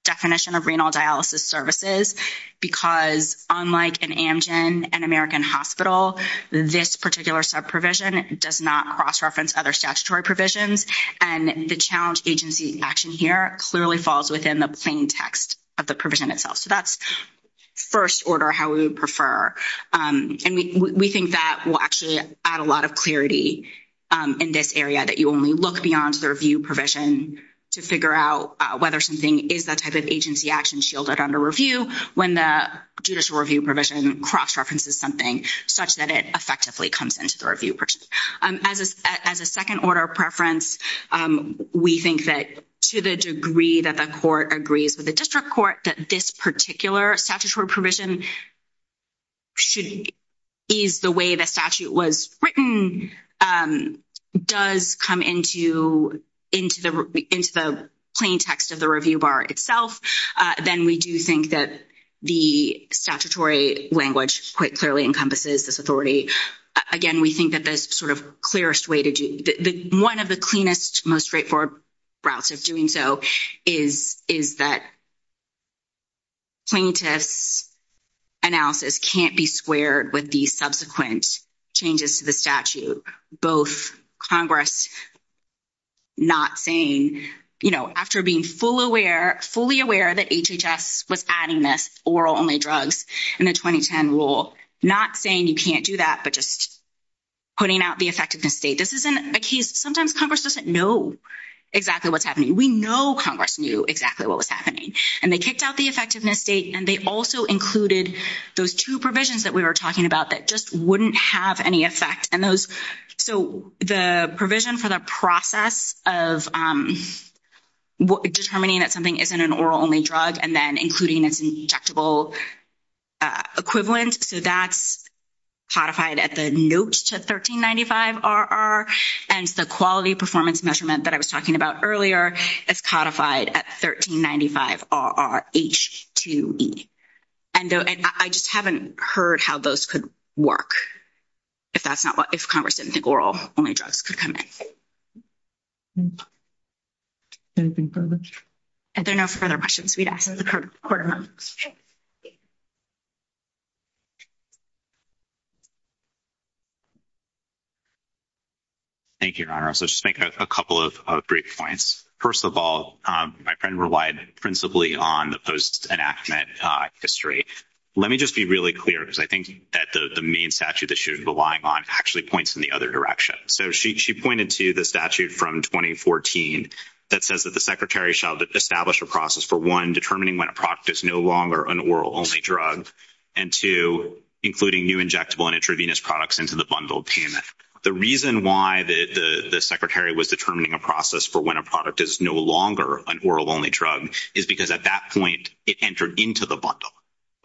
definition of renal dialysis services because unlike an Amgen, an American hospital, this particular subprovision does not cross-reference other statutory provisions. And the challenge agency action here clearly falls within the plain text of the provision itself. So that's first order how we would prefer. And we think that will actually add a lot of clarity in this area that you only look beyond the review provision to figure out whether something is that type of agency action shielded under review when the judicial review provision cross-references something such that it effectively comes into the review. As a second order of preference, we think that to the degree that the court agrees with the district court, that this particular statutory provision is the way the statute was written, does come into the plain text of the review bar itself, then we do think that the statutory language quite clearly encompasses this authority. Again, we think that that's sort of the clearest way to do. One of the cleanest, most straightforward routes of doing so is that plaintiff's analysis can't be squared with the subsequent changes to the statute. Both Congress not saying, you know, after being fully aware that HHS was adding this oral-only drugs in the 2010 rule, not saying you can't do that, but just putting out the effectiveness date. This isn't a case—sometimes Congress doesn't know exactly what's happening. We know Congress knew exactly what was happening, and they kicked out the effectiveness date, and they also included those two provisions that we were talking about that just wouldn't have any effect. And those—so the provision for the process of determining that something isn't an oral-only drug and then including it in the injectable equivalent, so that's codified at the note to 1395 RR, and the quality performance measurement that I was talking about earlier is codified at 1395 RR H2E. And I just haven't heard how those could work if that's not what—if Congress didn't think oral-only drugs could come in. Anything further? If there are no further questions, we'd ask them in the court room. Thank you, Ira. I'll just make a couple of brief points. First of all, my friend relied principally on the post-enactment history. Let me just be really clear, because I think that the main statute that she was relying on actually points in the other direction. So she pointed to the statute from 2014 that says that the secretary shall establish a process for, one, determining when a product is no longer an oral-only drug, and two, including new injectable and intravenous products into the bundled payment. The reason why the secretary was determining a process for when a product is no longer an oral-only drug is because at that point it entered into the bundle,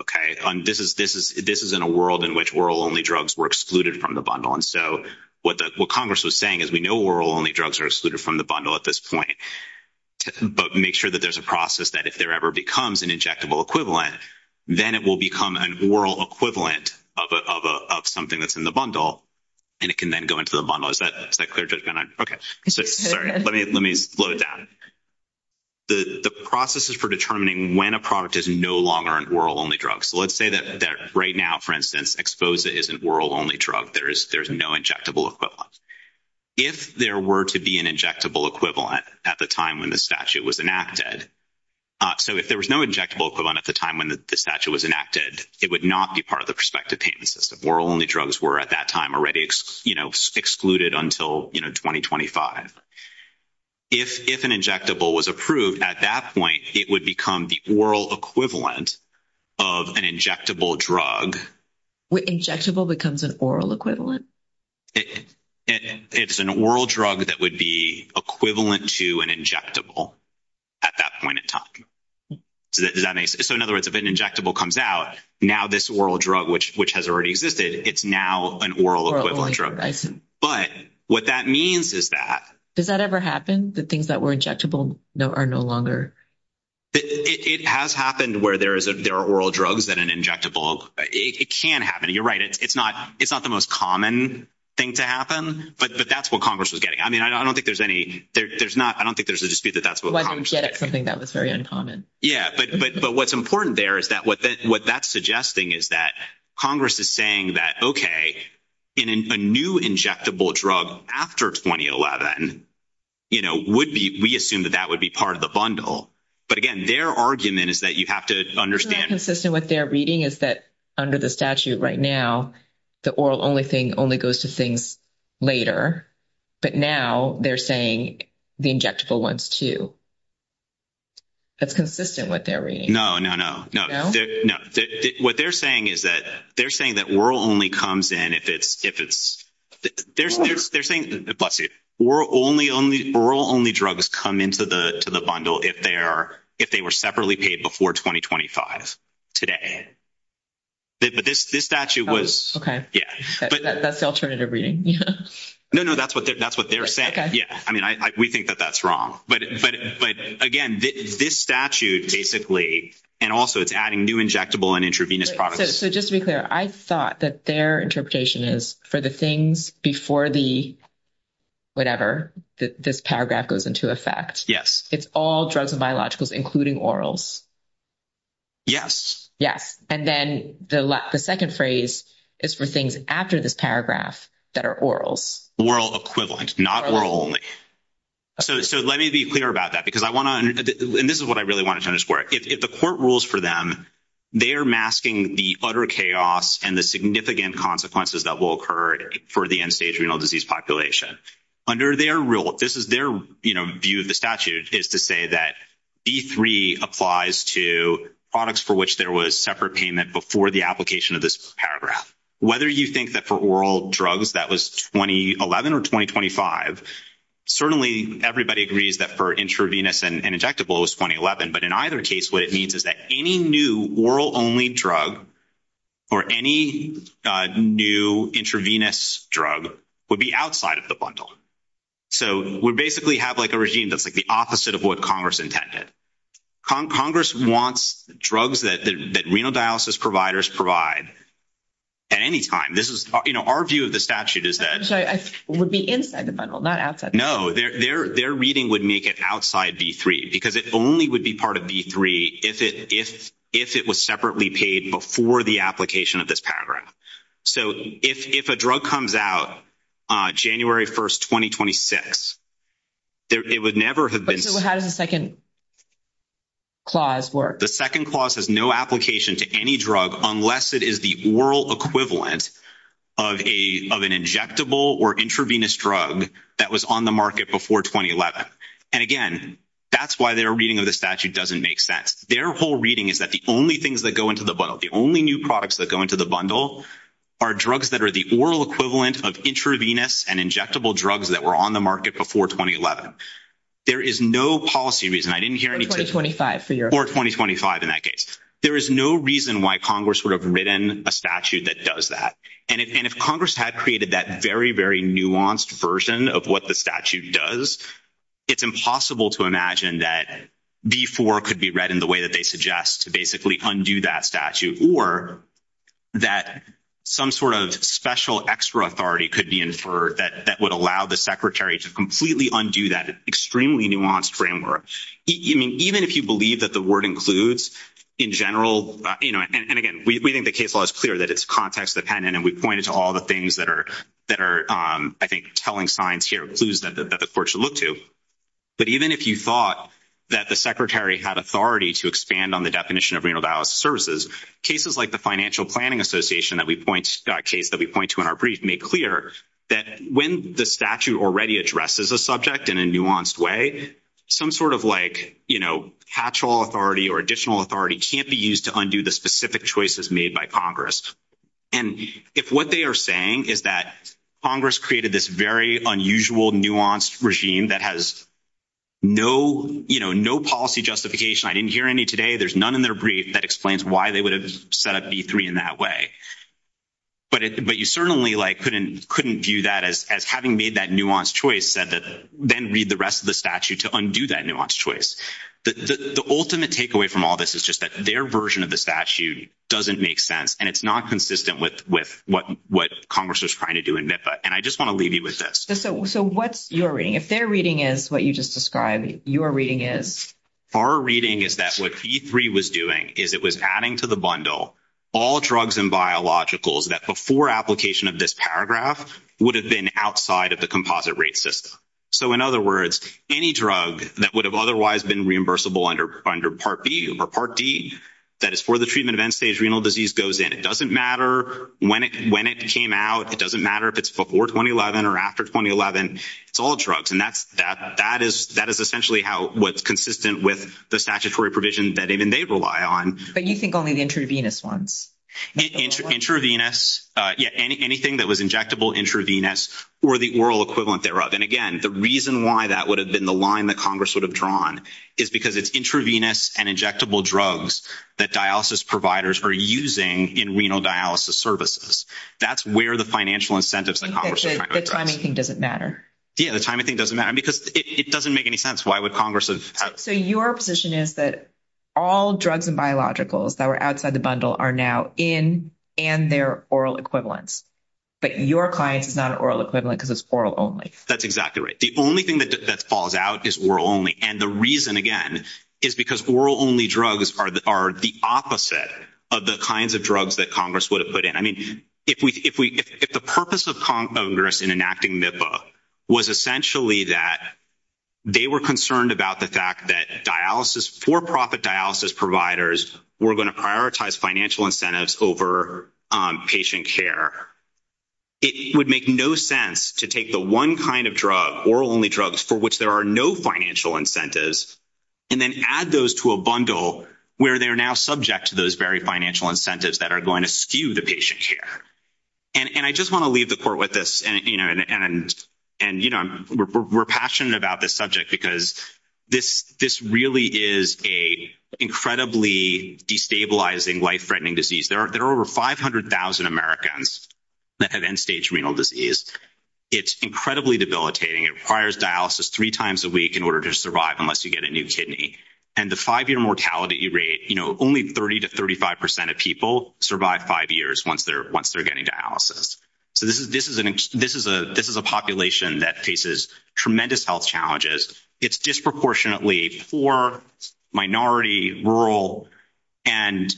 okay? This is in a world in which oral-only drugs were excluded from the bundle, and so what Congress was saying is we know oral-only drugs are excluded from the bundle at this point, but make sure that there's a process that if there ever becomes an injectable equivalent, then it will become an oral equivalent of something that's in the bundle, and it can then go into the bundle. Is that clear? Okay. Sorry. Let me load that. The process is for determining when a product is no longer an oral-only drug. Let's say that right now, for instance, EXPOSA is an oral-only drug. There's no injectable equivalent. If there were to be an injectable equivalent at the time when the statute was enacted, so if there was no injectable equivalent at the time when the statute was enacted, it would not be part of the prospective payment system. Oral-only drugs were at that time already excluded until 2025. If an injectable was approved at that point, it would become the oral equivalent of an injectable drug. Injectable becomes an oral equivalent? It's an oral drug that would be equivalent to an injectable at that point in time. So in other words, if an injectable comes out, now this oral drug, which has already existed, it's now an oral equivalent drug. I see. But what that means is that... Does that ever happen? The things that were injectable are no longer... It has happened where there are oral drugs that are injectable. It can happen. You're right. It's not the most common thing to happen, but that's what Congress was getting. I mean, I don't think there's any... I don't think there's a dispute that that's what Congress was getting. I didn't get it because I think that was very uncommon. Yeah, but what's important there is that what that's suggesting is that Congress is saying that, okay, in a new injectable drug after 2011, we assume that that would be part of the bundle. But again, their argument is that you have to understand... What's consistent with their reading is that under the statute right now, the oral only thing only goes to things later. But now they're saying the injectable ones too. That's consistent with their reading. No, no, no. No? No. What they're saying is that they're saying that oral only comes in if it's... They're saying... Bless you. Oral only drugs come into the bundle if they were separately paid before 2025 today. But this statute was... Okay. Yeah. That's the alternative reading. No, no. That's what they're saying. Okay. Yeah. I mean, we think that that's wrong. But again, this statute basically, and also it's adding new injectable and intravenous products. So just to be clear, I thought that their interpretation is for the things before the whatever, this paragraph goes into effect. Yes. It's all drugs and biologicals, including orals. Yes. Yes. And then the second phrase is for things after this paragraph that are orals. Oral equivalent, not oral only. So let me be clear about that, because I want to... And this is what I really wanted to underscore. If the court rules for them, they are masking the utter chaos and the significant consequences that will occur for the end-stage renal disease population. Under their rule, this is their view of the statute, is to say that B3 applies to products for which there was separate payment before the application of this paragraph. Whether you think that for oral drugs, that was 2011 or 2025, certainly everybody agrees that for intravenous and injectable, it was 2011. But in either case, what it means is that any new oral-only drug or any new intravenous drug would be outside of the bundle. So we basically have like a regime that's like the opposite of what Congress intended. Congress wants drugs that renal dialysis providers provide at any time. This is... You know, our view of the statute is that... I'm sorry. It would be inside the bundle, not outside. No. Their reading would make it outside B3, because it only would be part of B3 if it was separately paid before the application of this paragraph. So if a drug comes out January 1, 2026, it would never have been... So how does the second clause work? The second clause has no application to any drug unless it is the oral equivalent of an injectable or intravenous drug that was on the market before 2011. And again, that's why their reading of the statute doesn't make sense. Their whole reading is that the only things that go into the bundle, the only new products that go into the bundle are drugs that are the oral equivalent of intravenous and injectable drugs that were on the market before 2011. There is no policy reason. I didn't hear anything... Or 2025 in that case. There is no reason why Congress would have written a statute that does that. And if Congress had created that very, very nuanced version of what the statute does, it's impossible to imagine that B4 could be read in the way that they suggest to basically undo that statute, or that some sort of special extra authority could be inferred that would allow the secretary to completely undo that extremely nuanced framework. I mean, even if you believe that the word includes, in general... And again, we think the case law is clear that it's context-dependent, and we pointed to all the things that are, I think, telling signs here, clues that the court should look to. But even if you thought that the secretary had authority to expand on the definition of renal dialysis services, cases like the Financial Planning Association that we point to in our brief make clear that when the statute already addresses a subject in a nuanced way, some sort of, like, catch-all authority or additional authority can't be used to undo the specific choices made by Congress. And if what they are saying is that Congress created this very unusual, nuanced regime that has no policy justification... I didn't hear any today. There's none in their brief that explains why they would have set up B3 in that way. But you certainly, like, couldn't view that as having made that nuanced choice that then read the rest of the statute to undo that nuanced choice. The ultimate takeaway from all this is just that their version of the statute doesn't make sense, and it's not consistent with what Congress was trying to do in NIFA. And I just want to leave you with this. So what's your reading? If their reading is what you just described, your reading is? Our reading is that what B3 was doing is it was adding to the bundle all drugs and biologicals that before application of this paragraph would have been outside of the composite rate system. So, in other words, any drug that would have otherwise been reimbursable under Part B or Part D that is for the treatment of end-stage renal disease goes in. It doesn't matter when it came out. It doesn't matter if it's before 2011 or after 2011. It's all drugs. And that is essentially how it was consistent with the statutory provision that even they rely on. But you think only the intravenous ones. Intravenous. Yeah, anything that was injectable intravenous or the oral equivalent thereof. And, again, the reason why that would have been the line that Congress would have drawn is because it's intravenous and injectable drugs that dialysis providers are using in renal dialysis services. That's where the financial incentives that Congress was trying to address. The timing thing doesn't matter. Yeah, the timing thing doesn't matter because it doesn't make any sense. Why would Congress have? So your position is that all drugs and biologicals that were outside the bundle are now in and they're oral equivalent. But your client is not an oral equivalent because it's oral only. That's exactly right. The only thing that falls out is oral only. And the reason, again, is because oral only drugs are the opposite of the kinds of drugs that Congress would have put in. I mean, if the purpose of Congress in enacting MIPA was essentially that they were concerned about the fact that for-profit dialysis providers were going to prioritize financial incentives over patient care, it would make no sense to take the one kind of drug, oral only drugs, for which there are no financial incentives, and then add those to a bundle where they're now subject to those very financial incentives that are going to skew the patient care. And I just want to leave the court with this. And, you know, we're passionate about this subject because this really is an incredibly destabilizing, life-threatening disease. There are over 500,000 Americans that have end-stage renal disease. It's incredibly debilitating. It requires dialysis three times a week in order to survive unless you get a new kidney. And the five-year mortality rate, you know, only 30 to 35 percent of people survive five years once they're getting dialysis. So this is a population that faces tremendous health challenges. It's disproportionately poor, minority, rural, and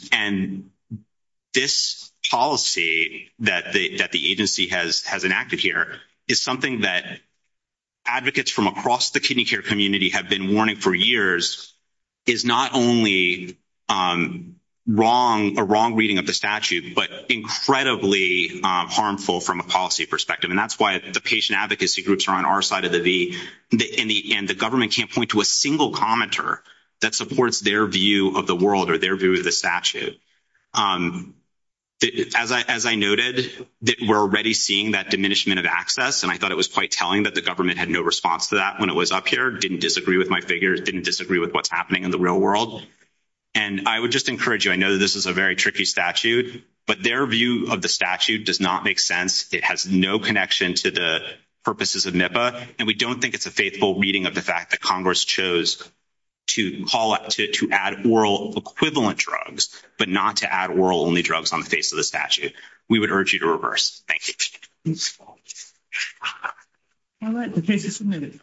this policy that the agency has enacted here is something that advocates from across the kidney care community have been warning for years is not only a wrong reading of the statute, but incredibly harmful from a policy perspective. And that's why the patient advocacy groups are on our side of the V, and the government can't point to a single commenter that supports their view of the world or their view of the statute. As I noted, we're already seeing that diminishment of access, and I thought it was quite telling that the government had no response to that when it was up here. It didn't disagree with my figures. It didn't disagree with what's happening in the real world. And I would just encourage you. I know that this is a very tricky statute, but their view of the statute does not make sense. It has no connection to the purposes of NIFA, and we don't think it's a faithful reading of the fact that Congress chose to call out to add oral equivalent drugs, but not to add oral-only drugs on the face of the statute. We would urge you to reverse. I'd like to take just a minute.